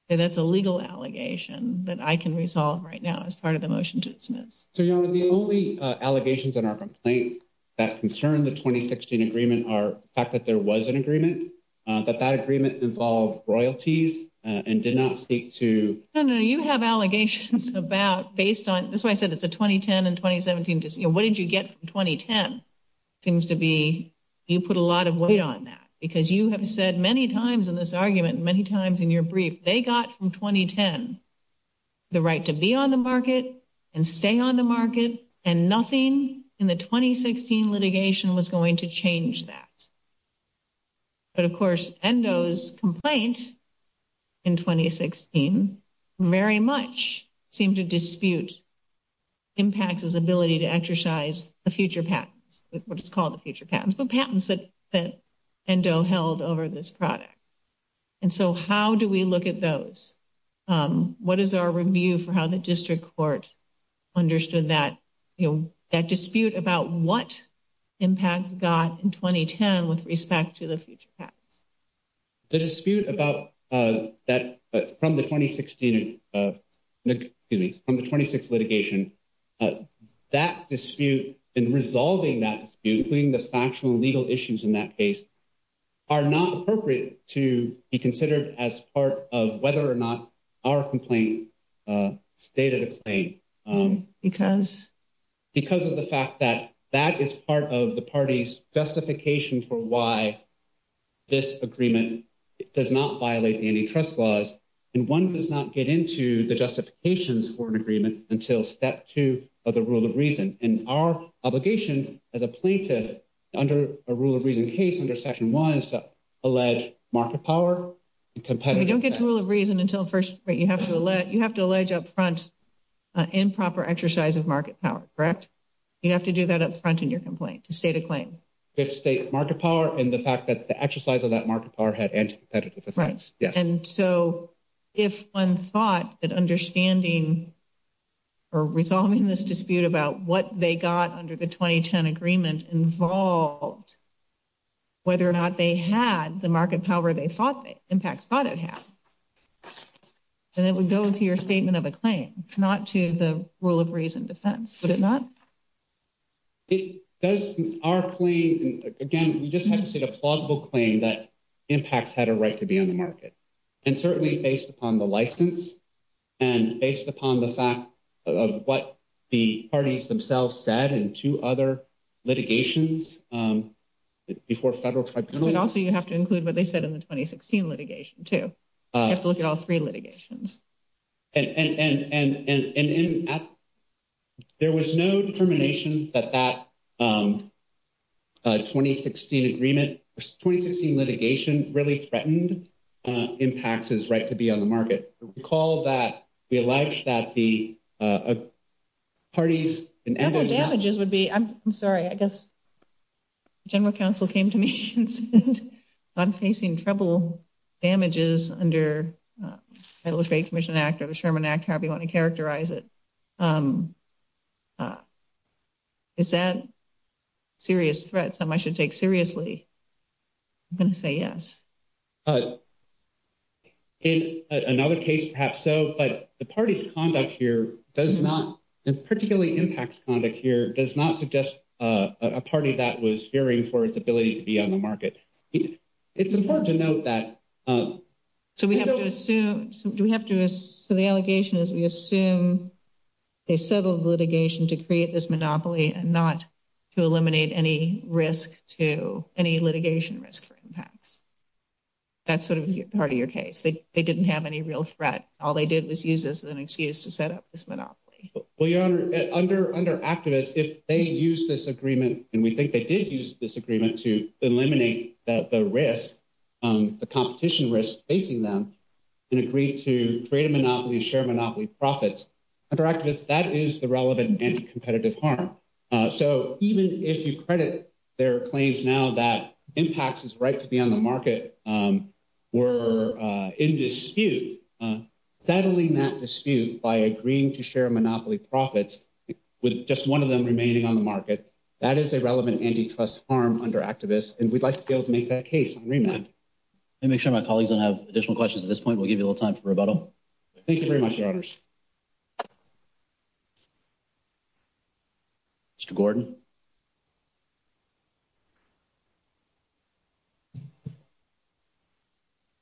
say that's a legal allegation that I can resolve right now as part of the motion to dismiss? So, you know, the only allegations in our complaint that concern the 2016 agreement are the fact that there was an agreement, but that agreement involved royalties and did not speak to... No, no, no. You have allegations about based on... That's why I said it's a 2010 and 2017... You know, what did you get from 2010 seems to be you put a lot of weight on that because you have said many times in this argument, many times in your brief, they got from 2010 the right to be on the market and stay on the market and nothing in the 2016 litigation was going to change that. But, of course, Endo's complaints in 2016 very much seem to dispute IMPACT's ability to exercise the future patents, what is called the future patents, the patents that Endo held over this product. And so how do we look at those? What is our review for how the district court understood that, you know, that dispute about what IMPACT got in 2010 with respect to the future patents? The dispute about that from the 2016, excuse me, from the 2016 litigation, that dispute and resolving that dispute, including the factual and legal issues in that case, are not appropriate to be considered as part of whether or not our complaint stated a claim. Because? Because of the fact that that is part of the party's justification for why this agreement does not violate antitrust laws and one does not get into the justifications for an agreement until step two of the rule of reason. And our obligation as a plaintiff, under a rule of reason case, under section one, is to allege market power. You don't get to rule of reason until first, but you have to allege up front improper exercise of market power, correct? You have to do that up front in your complaint, to state a claim. If state market power and the fact that the exercise of that market power had antithetical effects. Right. And so if one thought that understanding or resolving this dispute about what they got under the 2010 agreement involved whether or not they had the market power they thought that IMPACT thought it had, then it would go to your statement of a Our claim, again, we just had to state a plausible claim that IMPACT had a right to be in the market. And certainly based upon the license and based upon the fact of what the parties themselves said in two other litigations before federal tribunal. And also you have to include what they said in the 2016 litigation too. You have to look at all three litigations. And there was no determination that that 2016 agreement, 2016 litigation really threatened IMPACT's right to be on the market. We call that, we allege that the parties And the damages would be, I'm sorry, I guess general counsel came to me and said I'm facing trouble, damages under Federal Trade Commission Act or the Sherman Act, however you want to characterize it. Is that serious threat someone should take seriously? I'm going to say yes. In another case perhaps so, but the party's conduct here does not, particularly IMPACT's conduct here, does not suggest a party that was fearing for its ability to be on the market. It's important to note that. So we have to assume, so the allegation is we assume they settled the litigation to create this monopoly and not to eliminate any risk to any litigation risk for IMPACT. That's sort of part of your case. They didn't have any real threat. All they did was use this as an excuse to set up this monopoly. Well, Your Honor, under activists, if they use this agreement and we think they did use this agreement to eliminate the risk, the competition risk facing them and agreed to create a monopoly, share monopoly profits, under activists, that is the relevant anti-competitive harm. So even if you credit their claims now that IMPACT's right to be on the market were in dispute, settling that dispute by agreeing to share monopoly profits, with just one of them remaining on the market, that is a relevant anti-class harm under activists and we'd like to go make that case on remand. Let me make sure my colleagues don't have additional questions at this point. We'll give you a little time for rebuttal. Thank you very much, Your Honors. Mr. Gordon.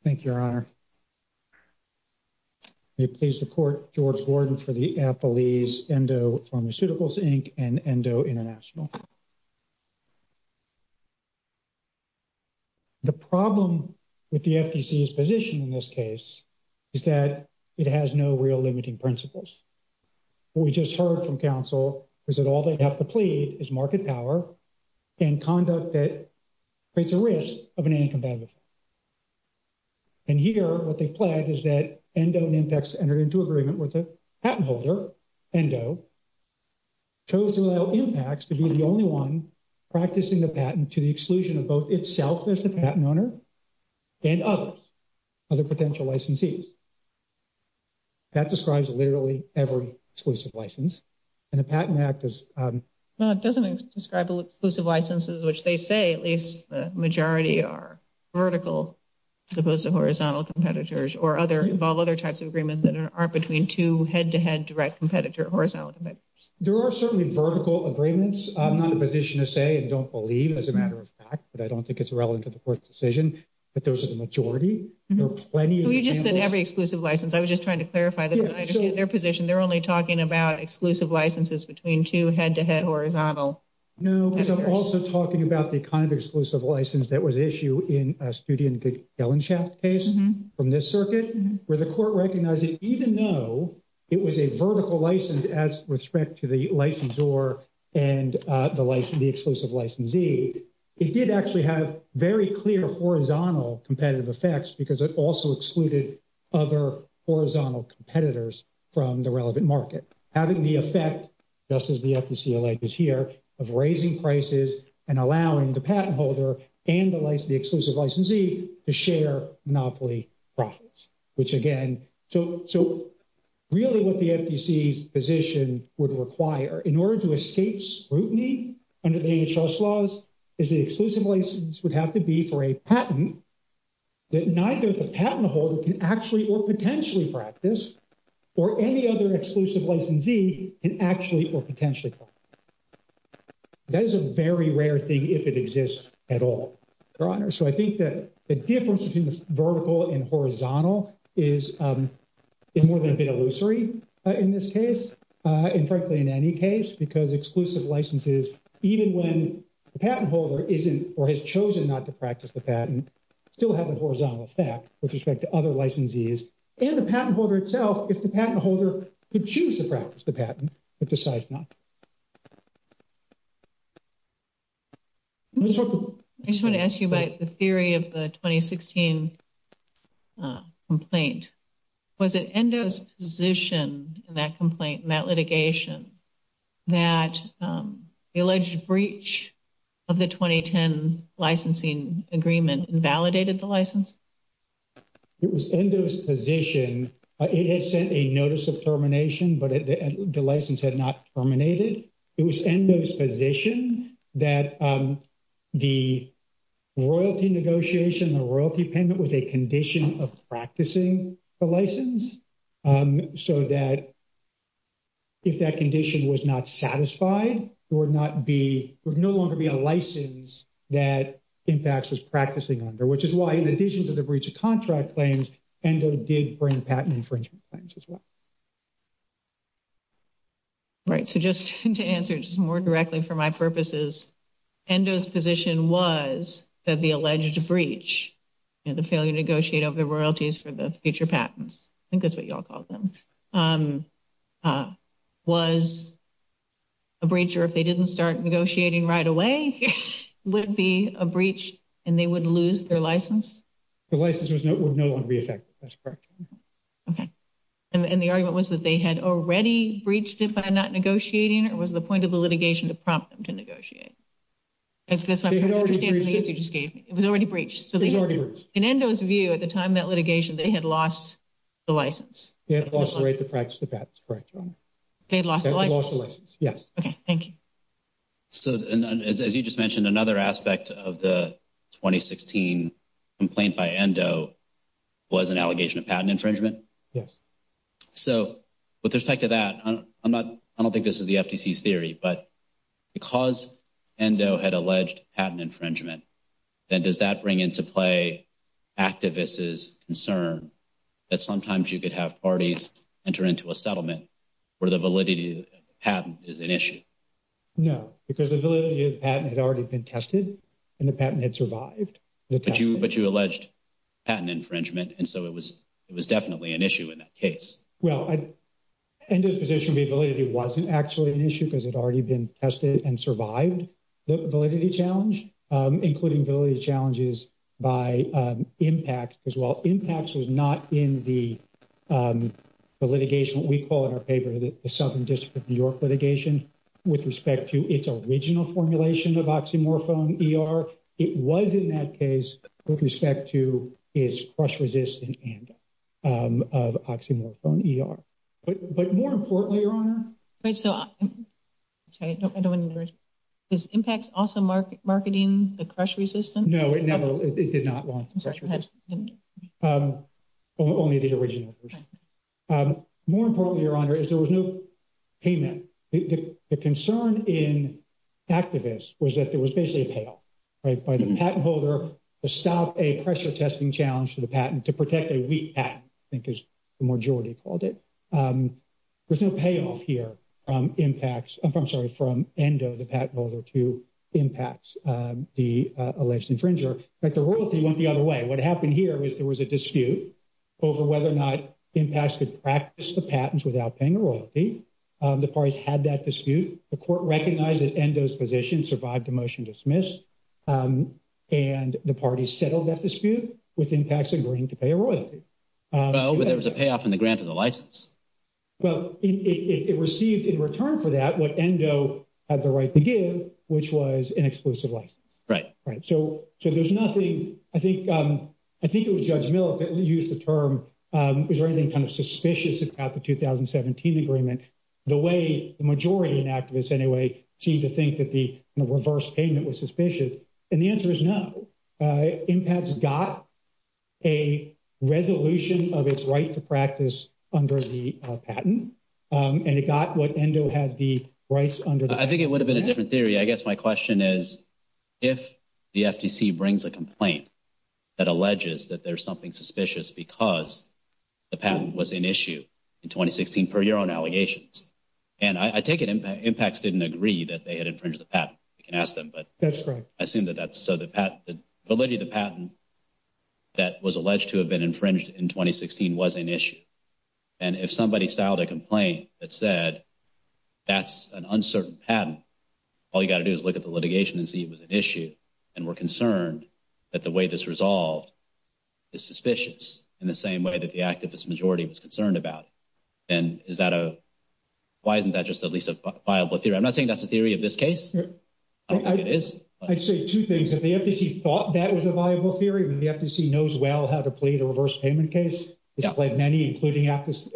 Thank you, Your Honor. May it please the Court, George Gordon for the affilies Endo Pharmaceuticals, Inc. and Endo International. The problem with the FDC's position in this case is that it has no real limiting principles. What we just heard from counsel is that all they have to plead is market power and conduct that creates a risk of an anti-competitive. And here what they've pledged is that Endo and IMPACT's entered into agreement with a patent holder, Endo, chose to allow IMPACT's to be the only one practicing the patent to the exclusion of both itself as the patent owner and others, other potential licensees. That describes literally every exclusive license. And the patent act is... Well, it doesn't describe exclusive licenses, which they say at least the majority are vertical as opposed to horizontal competitors or other, involve other types of agreements that are between two head-to-head direct competitor horizontal competitors. There are certainly vertical agreements. I'm not in a position to say and don't believe, as a matter of fact, but I don't think it's relevant to the Court's decision, that those are the majority. There are plenty of examples... So you just said every exclusive license. I was just trying to clarify that. Yes. I appreciate their position. They're only talking about exclusive licenses between two head-to-head horizontal... No, because I'm also talking about the kind of exclusive license that was issued in a Studey and Goodkellenschaft case from this circuit, where the Court recognized that even though it was a vertical license as with respect to the licensor and the exclusive licensee, it did actually have very clear horizontal competitive effects because it also excluded other horizontal competitors from the relevant market. Having the effect, just as the FTC alleges here, of raising prices and allowing the patent holder and the exclusive licensee to share monopoly profits, which again... So really what the FTC's position would require in order to escape scrutiny under the HHS laws is the exclusive license would have to be for a patent that neither the patent holder can actually or potentially practice or any other exclusive licensee can actually or potentially practice. That is a very rare thing if it exists at all, Your Honor. So I think that the difference between vertical and horizontal is more than a bit illusory in this case and frankly in any case because exclusive licenses, even when the patent holder isn't or has chosen not to practice the patent, still have a horizontal effect with respect to other licensees. And the patent holder itself, if the patent holder could choose to practice the patent, but decides not. I just want to ask you about the theory of the 2016 complaint. Was it ENDO's position in that complaint, in that litigation, that the alleged breach of the 2010 licensing agreement invalidated the license? It was ENDO's position. It had sent a notice of termination, but the license had not terminated. It was ENDO's position that the royalty negotiation, the royalty payment, was a condition of practicing the license so that if that condition was not satisfied, there would not be, there would no longer be a license that INPAX is practicing under, which is why in the cases of the breach of contract claims, ENDO did bring patent infringement claims as well. All right. So just to answer just more directly for my purposes, ENDO's position was that the alleged breach and the failure to negotiate of the royalties for the future patents, I think that's what you all call them, was a breach or if they didn't start negotiating right away, would be a breach and they would lose their license? The license would no longer be effective. That's correct. Okay. And the argument was that they had already breached it by not negotiating or was the point of the litigation to prompt them to negotiate? It's just I'm not understanding the issue. It was already breached. It was already breached. In ENDO's view, at the time of that litigation, they had lost the license. They had lost the right to practice the patent. That's correct, Your Honor. They had lost the license? They had lost the license, yes. Okay. Thank you. So as you just mentioned, another aspect of the 2016 complaint by ENDO was an allegation of patent infringement? Yes. So with respect to that, I don't think this is the FTC's theory, but because ENDO had alleged patent infringement, then does that bring into play activists' concern that sometimes you could have parties enter into a settlement where the validity of the patent is an issue? No, because the validity of the patent had already been tested and the patent had survived. But you alleged patent infringement, and so it was definitely an issue in that case. Well, ENDO's position of the validity wasn't actually an issue because it had already been tested and survived the validity challenge, including validity challenges by IMPACT as well. IMPACT was not in the litigation that we call in our paper the Southern District of New York litigation with respect to its original formulation of oxymorphone ER. It was in that case with respect to its crush-resistant ENDO of oxymorphone ER. But more importantly, Your Honor... Is IMPACT also marketing the crush-resistant? No, it did not launch the crush-resistant. Only the original version. More importantly, Your Honor, is there was no payment. The concern in activists was that there was basically a payoff, right? By the patent holder to stop a pressure-testing challenge for the patent, to protect a weak patent, I think is the majority called it. There's no payoff here from ENDO, the patent holder, to IMPACT, the alleged infringer. But the royalty went the other way. What happened here is there was a dispute over whether or not IMPACT could practice the patents without paying a royalty. The parties had that dispute. The court recognized that ENDO's position survived a motion to dismiss, and the parties settled that dispute with IMPACT's agreement to pay a royalty. No, but there was a payoff in the grant of the license. Well, it received in return for that what ENDO had the right to give, which was an exclusive license. Right. Right. So there's nothing... I think it was Judge Miller who used the term, is there anything kind of suspicious about the 2017 agreement? The way the majority of activists, anyway, seemed to think that the reverse payment was suspicious. And the answer is no. IMPACT's got a resolution of its right to practice under the patent, and it got what ENDO had the rights under the patent. I think it would have been a different theory. I guess my question is, if the FTC brings a complaint that alleges that there's something suspicious because the patent was an issue in 2016 per your own allegations, and I take it IMPACT didn't agree that they had infringed the patent. You can ask them, but... That's correct. I assume that that's... So the patent that was alleged to have been infringed in 2016 was an issue. And if somebody filed a complaint that said that's an uncertain patent, all that the way this resolved is suspicious in the same way that the activist majority was concerned about, then is that a... Why isn't that just at least a viable theory? I'm not saying that's a theory of this case. I'd say two things. If the FTC thought that was a viable theory, then the FTC knows well how to plead a reverse payment case. It's pled many, including FTC,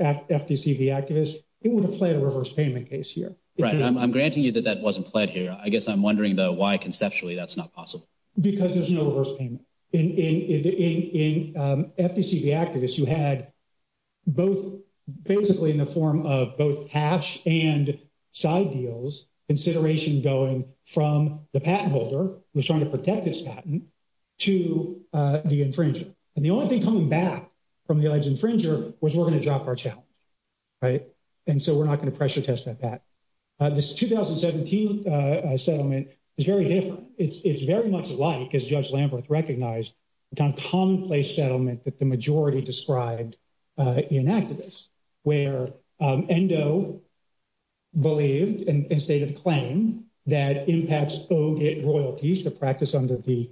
the activist. It would have pled a reverse payment case here. Right. I'm granting you that that wasn't pled here. I guess I'm wondering, though, why conceptually that's not possible? Because there's no reverse payment. In FTC, the activist, you had both basically in the form of both cash and side deals, consideration going from the patent holder, who's trying to protect this patent, to the infringer. And the only thing coming back from the alleged infringer was we're going to drop our challenge, right? And so we're not going to pressure test that patent. This 2017 settlement is very different. It's very much like, as Judge Lamberth recognized, the kind of commonplace settlement that the majority described in activist, where ENDO believed and stated a claim that IMPATS owed it royalties to practice under the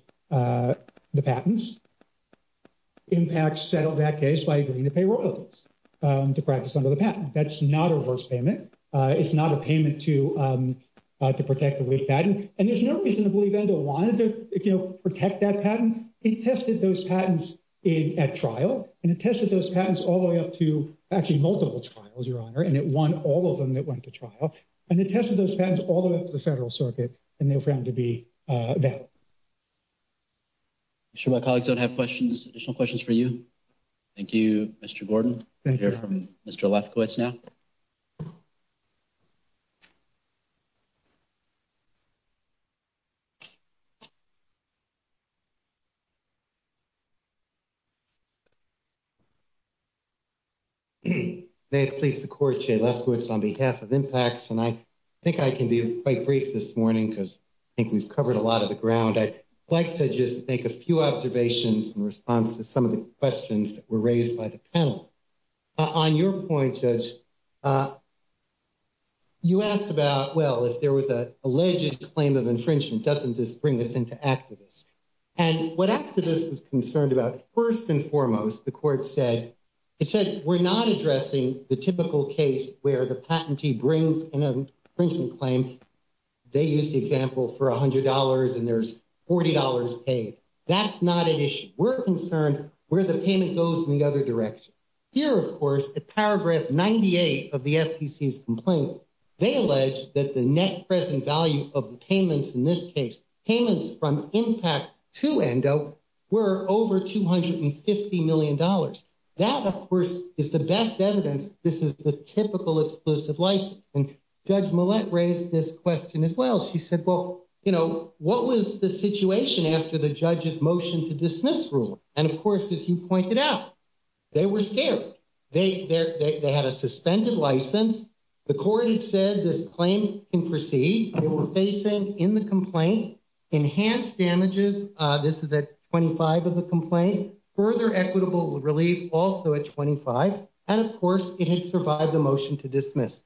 patents. IMPATS settled that case by agreeing to pay royalties to practice under the patent. That's not a reverse payment. It's not a payment to protect the waived patent. And there's no reason to believe ENDO wanted to protect that patent. It tested those patents at trial, and it tested those patents all the way up to actually multiple trials, Your Honor, and it won all of them that went to trial. And it tested those patents all the way up to the Federal Circuit, and they were found to be valid. I'm sure my colleagues don't have questions, additional questions for you. Thank you, Mr. Lefkowitz now. May I please support Jay Lefkowitz on behalf of IMPATS? And I think I can be quite brief this morning because I think we've covered a lot of the ground. I'd like to just make a few observations in response to some of the questions that were raised by the panel. On your point, Judge, you asked about, well, if there was an alleged claim of infringement, doesn't this bring us into activists? And what activists are concerned about, first and foremost, the court said, it says we're not addressing the typical case where the patentee brings an infringement claim. They use the example for $100 and there's $40 paid. That's not an issue. We're concerned where the payment goes in the other direction. Here, of course, in paragraph 98 of the FTC's complaint, they allege that the net present value of the payments in this case, payments from IMPATS to ENDO were over $250 million. That, of course, is the best evidence this is the typical exclusive license. And Judge motioned to dismiss rule. And of course, as you pointed out, they were scared. They had a suspended license. The court had said this claim can proceed. They were facing, in the complaint, enhanced damages. This is at 25 of the complaint. Further equitable relief, also at 25. And of course, it has provided a motion to dismiss.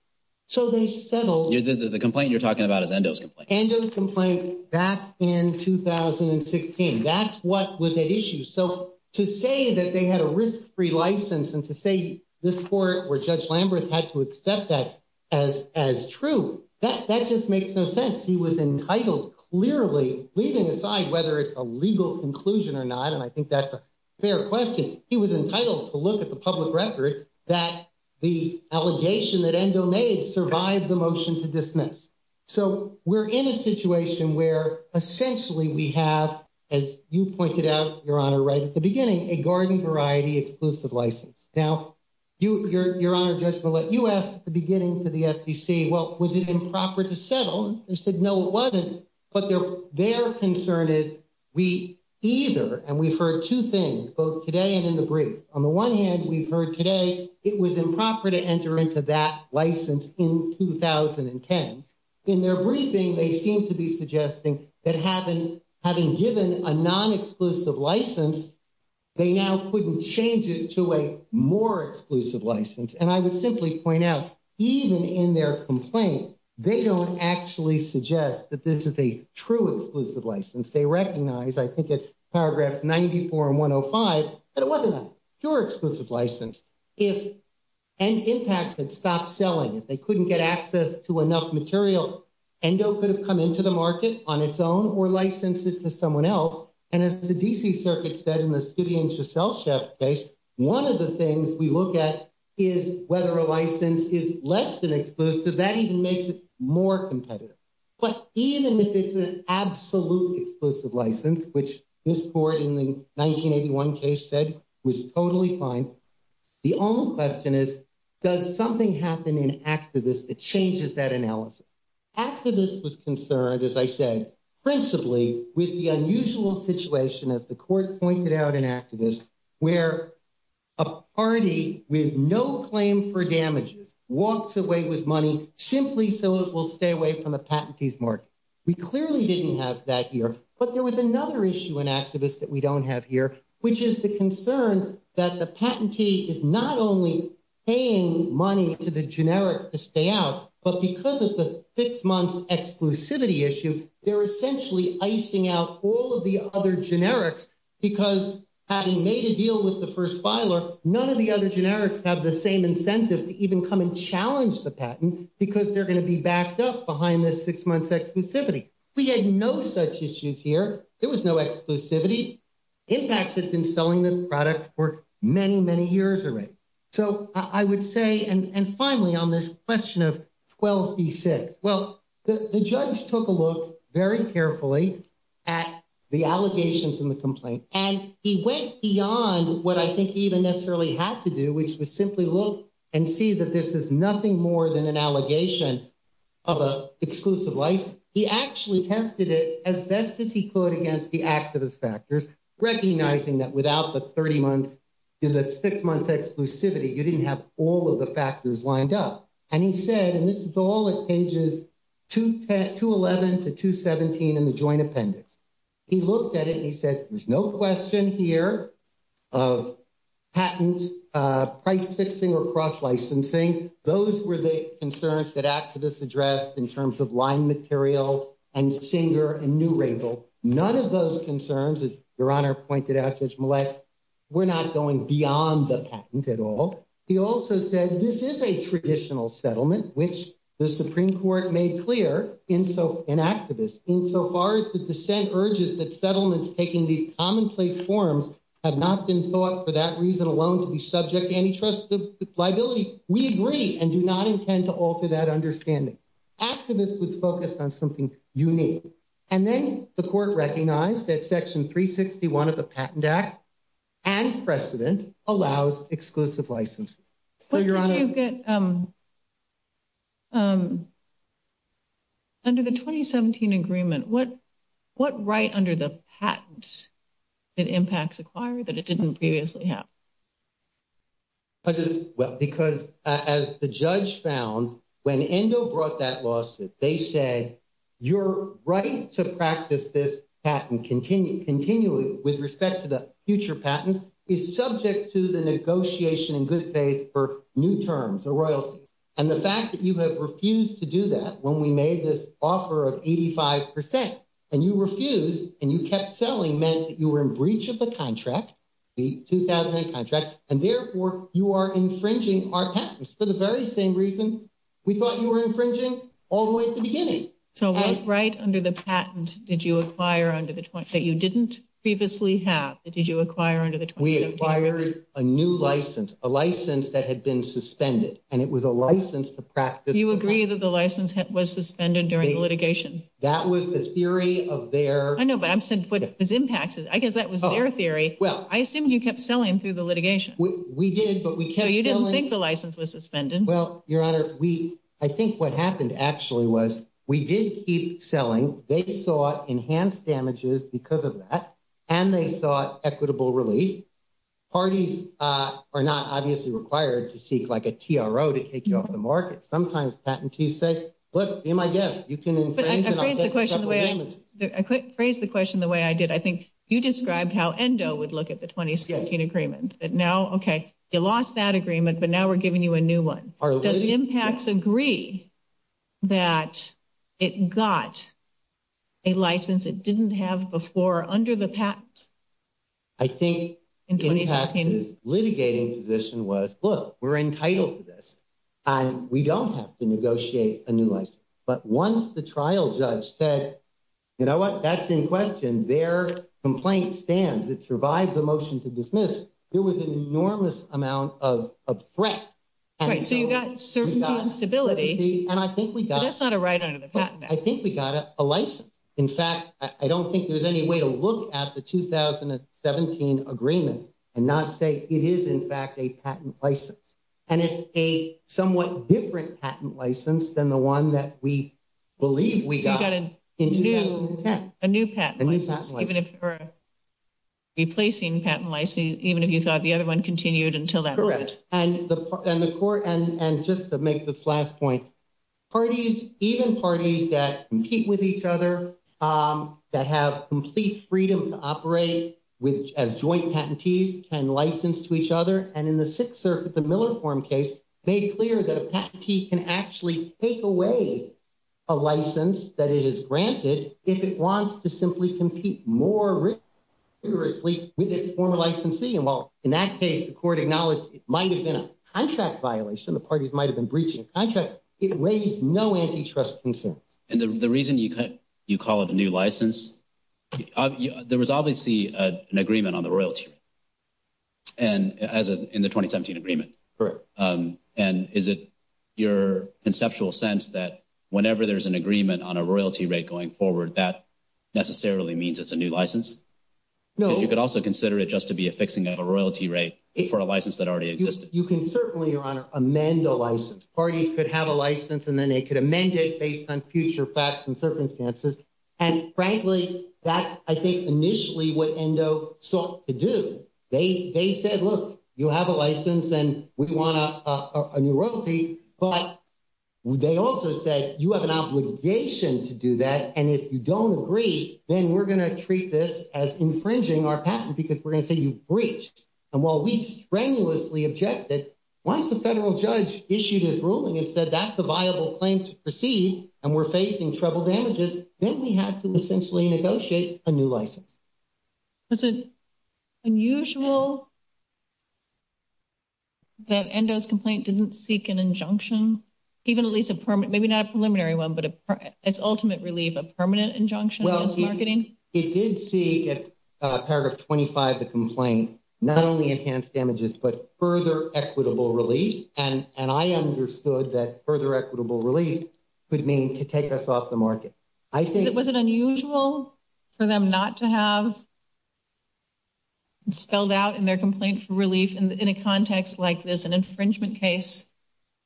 So they settled. This is the complaint you're talking about, ENDO's complaint. ENDO's complaint back in 2016. That's what was at issue. So to say that they had a risk-free license and to say this court or Judge Lambert had to accept that as true, that just makes no sense. He was entitled, clearly, leaving aside whether it's a legal inclusion or not, and I think that's a fair question. He was entitled to look at the public record that the allegation that ENDO made survived the motion to dismiss. So we're in a situation where essentially we have, as you pointed out, Your Honor, right at the beginning, a garden variety exclusive license. Now, Your Honor, just to let you ask at the beginning to the SEC, well, was it improper to settle? They said no, it wasn't. But their concern is we either, and we've heard two things, both today and in the brief. On the one hand, we've heard today it was improper to enter into that license in 2010. In their briefing, they seem to be suggesting that having given a non-exclusive license, they now couldn't change it to a more exclusive license. And I would simply point out, even in their complaint, they don't actually suggest that this is a true exclusive license. They recognize, I think it's paragraphs 94 and 105, that it wasn't a true exclusive license. If ENDO impacted, stopped selling, if they couldn't get access to enough material, ENDO could have come into the market on its own or licensed this to someone else. And as the D.C. Circuit said in the City and Shacelle case, one of the things we look at is whether a license is less than exclusive, that even makes it more competitive. But even if it's an absolute exclusive license, which this court in the 1981 case said was totally fine, the only question is, does something happen in activist that changes that analysis? Activists was concerned, as I said, principally with the unusual situation, as the court pointed out in activist, where a party with no claim for damages walks away with money simply so it will stay away from the patentee's market. We clearly didn't have that here. But there was another issue in activist that we don't have here, which is the concern that the patentee is not only paying money to the generic to stay out, but because of the six-month exclusivity issue, they're essentially icing out all of the other generics because having made a deal with the first filer, none of the other generics have the same incentive to even come and challenge the patent because they're going to be backed up behind this six-month exclusivity. We had no such issues here. There was no exclusivity. Impact has been selling this product for many, many years already. So I would say, and finally, on this question of 12C6, well, the judge took a very careful look at the allegations in the complaint, and he went beyond what I think he even necessarily had to do, which was simply look and see that this is nothing more than an allegation of an exclusive license. He actually tested it as best as he could against the activist factors, recognizing that without the 30-month, the six-month exclusivity, you didn't have all the factors lined up. And he said, and this is all at pages 211 to 217 in the joint appendix. He looked at it and he said, there's no question here of patent price-fixing or cross-licensing. Those were the concerns that activist addressed in terms of line material and chamber and new label. None of those concerns, as Your Honor pointed out, Judge Millett, were not going beyond the patent at all. He also said, this is a traditional settlement, which the Supreme Court made clear, and so an activist, insofar as the dissent urges that settlements taking these commonplace forms have not been thought for that reason alone to be subject to any trusted liability, we agree and do not intend to alter that understanding. Activists would focus on something unique. And then the court recognized that Section 361 of the Patent Act and precedent allows exclusive licensing. So, Your Honor... But, Judge Millett, under the 2017 agreement, what right under the patent did impacts acquire that it didn't previously have? Well, because as the judge found, when ENDO brought that lawsuit, they said, your right to practice this patent continually with respect to the future patent is subject to the negotiation in good faith for new terms or royalties. And the fact that you have refused to do that when we made this offer of 85 percent, and you refused and you kept selling meant that you were in breach of the contract, the 2008 contract, and therefore you are infringing our patent. So, what right under the patent did you acquire under the... that you didn't previously have, did you acquire under the... We acquired a new license, a license that had been suspended, and it was a license to practice... Do you agree that the license was suspended during the litigation? That was the theory of their... I know, but I'm saying it was impacts. I guess that was their theory. Well... I assume you kept selling through the litigation. We did, but we kept selling... So, you didn't think the license was suspended. Well, Your Honor, we... I think what happened actually was we did keep selling, they saw enhanced damages because of that, and they saw equitable release. Parties are not obviously required to seek like a TRO to take you off the market. Sometimes patentees say, look, you're my guest, you can... But I could phrase the question the way I did. I think you described how ENDO would look at the agreement, that now, okay, they lost that agreement, but now we're giving you a new one. Does EMPATS agree that it got a license it didn't have before under the patent? I think EMPATS' litigating position was, look, we're entitled to this, and we don't have to negotiate a new license. But once the trial judge said, you know what, that's in question, their complaint stands, it survives the motion to dismiss, there was an enormous amount of threat. Right, so you've got a certain responsibility. And I think we got... That's not a right under the patent act. I think we got a license. In fact, I don't think there's any way to look at the 2017 agreement and not say it is in fact a patent license. And it's a somewhat different patent license than the one that we believe we got in 2010. A new patent. Even if you're replacing patent license, even if you thought the other one continued until that. Correct. And the court, and just to make this last point, parties, even parties that compete with each other, that have complete freedom to operate with joint patentees, can license to each other. And in the Sixer, the Miller form case, they cleared that a patentee can actually take away a license that is granted if it wants to simply compete more rigorously with a former licensee. And while in that case, the court acknowledged it might have been a contract violation, the parties might've been breaching contracts, it raised no antitrust concerns. And the reason you call it a new license, there was obviously an agreement on the royalty rate in the 2017 agreement. And is it your conceptual sense that whenever there's an agreement on a royalty rate going forward, that necessarily means it's a new license? You could also consider it just to be a fixing of a royalty rate for a license that already existed. You can certainly amend the license. Parties could have a license and then they could amend it based on future facts and circumstances. And frankly, that I think initially what ENDO sought to do, they said, look, you have a license and we want a new royalty, but they also said, you have an obligation to do that. And if you don't agree, then we're going to treat this as infringing our patent because we're going to say you breached. And while we strenuously objected, once the federal judge issued his ruling and said, that's the viable claim to proceed and we're facing trouble damages, then we have to essentially negotiate a new license. Is it unusual that ENDO's complaint didn't seek an injunction, even at least a permanent, maybe not a preliminary one, but its ultimate relief, a permanent injunction? Well, it did seek paragraph 25 of the complaint, not only enhanced damages, but further equitable relief. And I understood that further equitable relief could mean to take us off the market. Was it unusual for them not to have spelled out in their complaint for relief in a context like this, an infringement case,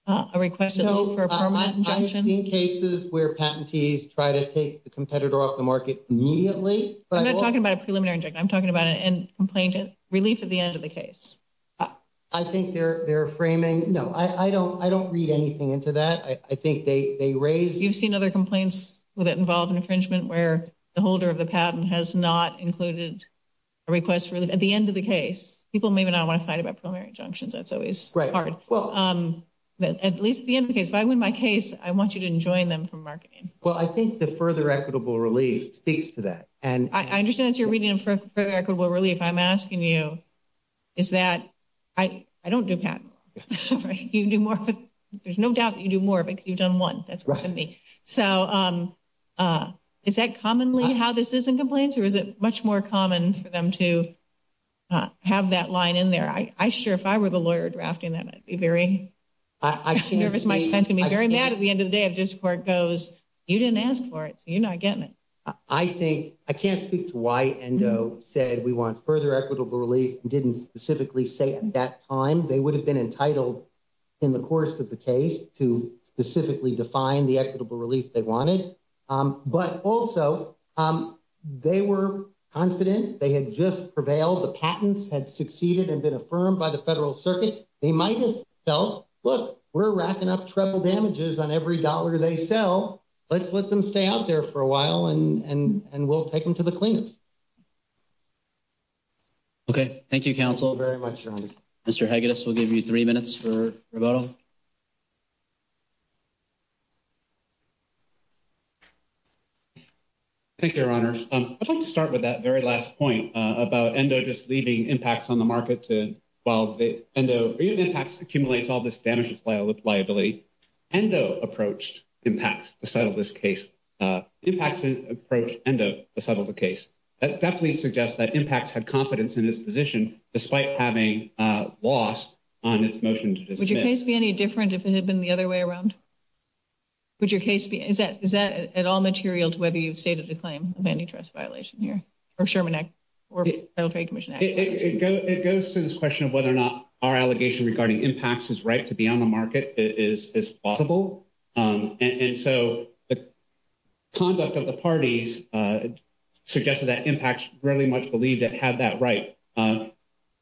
a request for a permanent injunction? I've seen cases where patentees try to take the competitor off the market immediately. I'm not talking about a preliminary injunction. I'm talking about a complaint, relief at the end of the case. I think they're framing... No, I don't read anything into that. I think they raised... You've seen other complaints that involve infringement where the holder of the patent has not included a request for... At the end of the case, people may not want to fight about preliminary injunctions. That's always hard. At least at the end of the case. If I win my case, I want you to enjoin them from marketing. Well, I think the further equitable relief speaks to that. And I understand that you're reading further equitable relief. I'm asking you is that I don't do patents. There's no doubt that you do more because you've done one. So is that commonly how this is in complaints? Or is it much more common for them to have that line in there? I'm sure if I were the lawyer drafting that, I'd be very... I can't speak... Nervous. My friends would be very mad at the end of the day if this court goes, you didn't ask for it, so you're not getting it. I think... I can't speak to why ENDO said we want further equitable relief and didn't specifically say at that time. They would have been entitled in the course of the case to specifically define the equitable relief they wanted. But also, they were confident. They had just prevailed. The patents had succeeded and been affirmed by the Federal Circuit. They might have felt, look, we're racking up treble damages on every dollar they sell. Let's let them stay out there for a while and we'll take them to the cleaners. Okay. Thank you, counsel. Very much, John. Mr. Haggis will give you three minutes for rebuttal. Thank you, Your Honor. I'd like to start with that very last point about ENDO just leaving IMPACTS on the market to... While ENDO... ENDO's IMPACTS accumulates all this damages liability. ENDO approached IMPACTS to settle this case. IMPACTS approached ENDO to settle the case. That definitely suggests that IMPACTS had confidence in this position despite having lost on its motion to dismiss. Would your case be any different if ENDO had been the other way around? Would your case be... Is that at all material to whether you stated the claim of any trust violation here or Sherman Act or Federal Trade Commission Act? It goes to this question of whether or not our allegation regarding IMPACTS' right to be on the market is plausible. And so the conduct of the parties suggested that IMPACTS really much believed it had that right.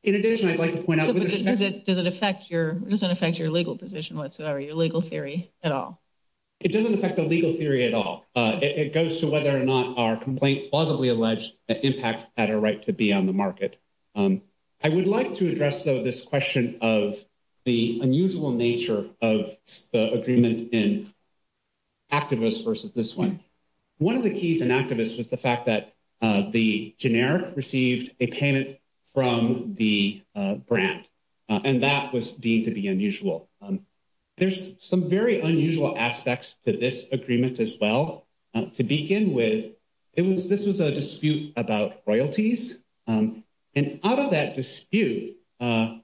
In addition, I'd like to point out... Does it affect your legal position whatsoever, your legal theory at all? It doesn't affect the legal theory at all. It goes to whether or not our complaint is plausibly alleged that IMPACTS had a right to be on the market. I would like to address, though, this question of the unusual nature of the agreement in ACTIVIS versus this one. One of the keys in ACTIVIS was the fact that the generic received a payment from the and that was deemed to be unusual. There's some very unusual aspects to this agreement as well. To begin with, this was a dispute about royalties. And out of that dispute, in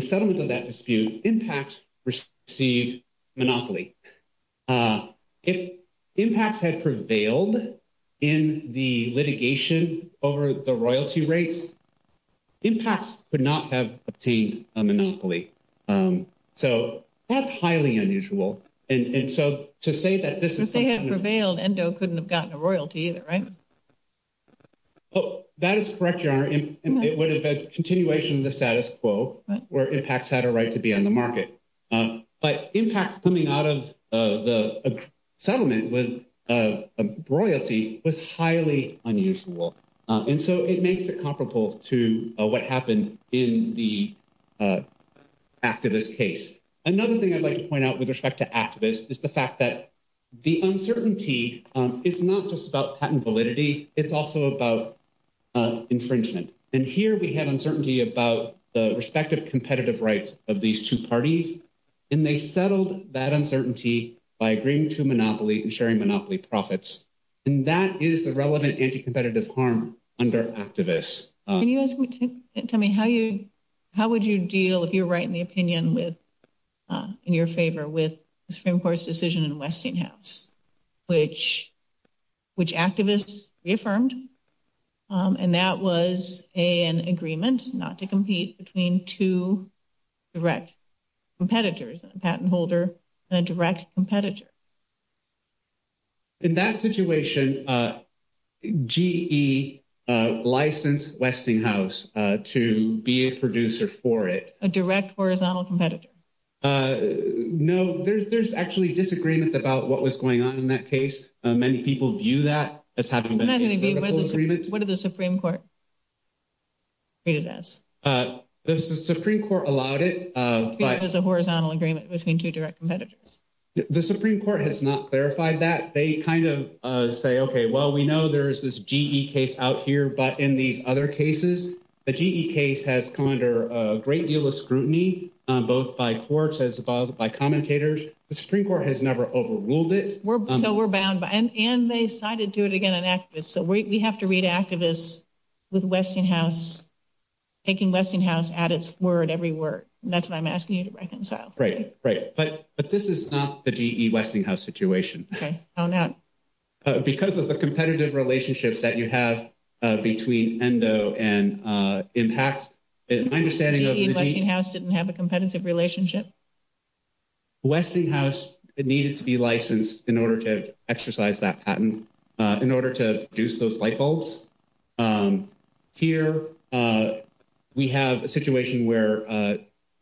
settlement of that dispute, IMPACTS received monopoly. If IMPACTS had prevailed in the litigation over the royalty rates, IMPACTS would not have obtained a monopoly. So that's highly unusual. And so to say that this is... If they had prevailed, ENDO couldn't have gotten a royalty either, right? Oh, that is correct, Yonah. And it would have been a continuation of the status quo where IMPACTS had a right to be on the market. But IMPACTS coming out of the settlement was royalty was highly unusual. And so it makes it comparable to what happened in the ACTIVIS case. Another thing I'd like to point out with respect to ACTIVIS is the fact that the uncertainty is not just about patent validity. It's also about infringement. And here we have uncertainty about the respective competitive rights of these two parties. And they settled that uncertainty by agreeing to monopoly and sharing monopoly profits. And that is the relevant anti-competitive harm under ACTIVIS. Can you tell me, how would you deal, if you're right in the opinion in your favor, with Supreme Court's decision in Westinghouse, which ACTIVIS reaffirmed? And that was an agreement not to compete between two direct competitors, a patent holder and a direct competitor. In that situation, GE licensed Westinghouse to be a producer for it. A direct horizontal competitor. No, there's actually disagreements about what was going on in that case. Many people view that as having been a full agreement. What did the Supreme Court say to this? The Supreme Court allowed it. It was a horizontal agreement between two direct competitors. The Supreme Court has not clarified that. They kind of say, okay, well, we know there's this GE case out here. But in these other cases, the GE case has come under a great deal of scrutiny, both by courts as well as by commentators. The Supreme Court has never overruled it. We're bound by it. And they cited to it again in ACTIVIS. So we have to read ACTIVIS with Westinghouse, taking Westinghouse at its word every word. That's what I'm asking you to reconcile. Right, right. But this is not the GE-Westinghouse situation. Because of the competitive relationships that you have between ENDO and IMPACT, my understanding is that Westinghouse didn't have a competitive relationship. Westinghouse needed to be licensed in order to exercise that patent, in order to get those light bulbs. Here, we have a situation where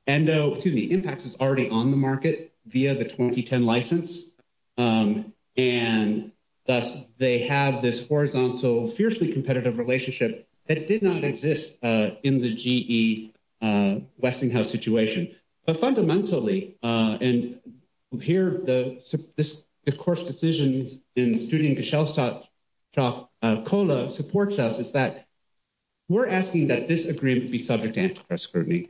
ENDO, excuse me, IMPACT is already on the market via the 2010 license. And thus, they have this horizontal, fiercely competitive relationship that did not exist in the GE-Westinghouse situation. But fundamentally, and here, the court's decision, including Michelle's talk, COLA supports us, is that we're asking that this agreement be subject to antitrust scrutiny.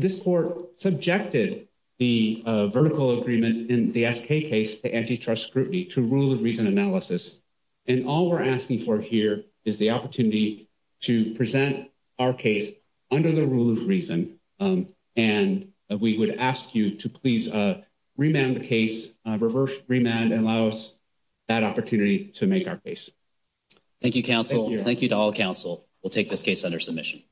This court subjected the vertical agreement in the FK case to antitrust scrutiny, to rule of reason analysis. And all we're asking for here is the opportunity to present our case under the rule of reason. And we would ask you to please remand the case, reverse remand, and allow us that opportunity to make our case. Thank you, counsel. Thank you to all counsel. We'll take this case under submission.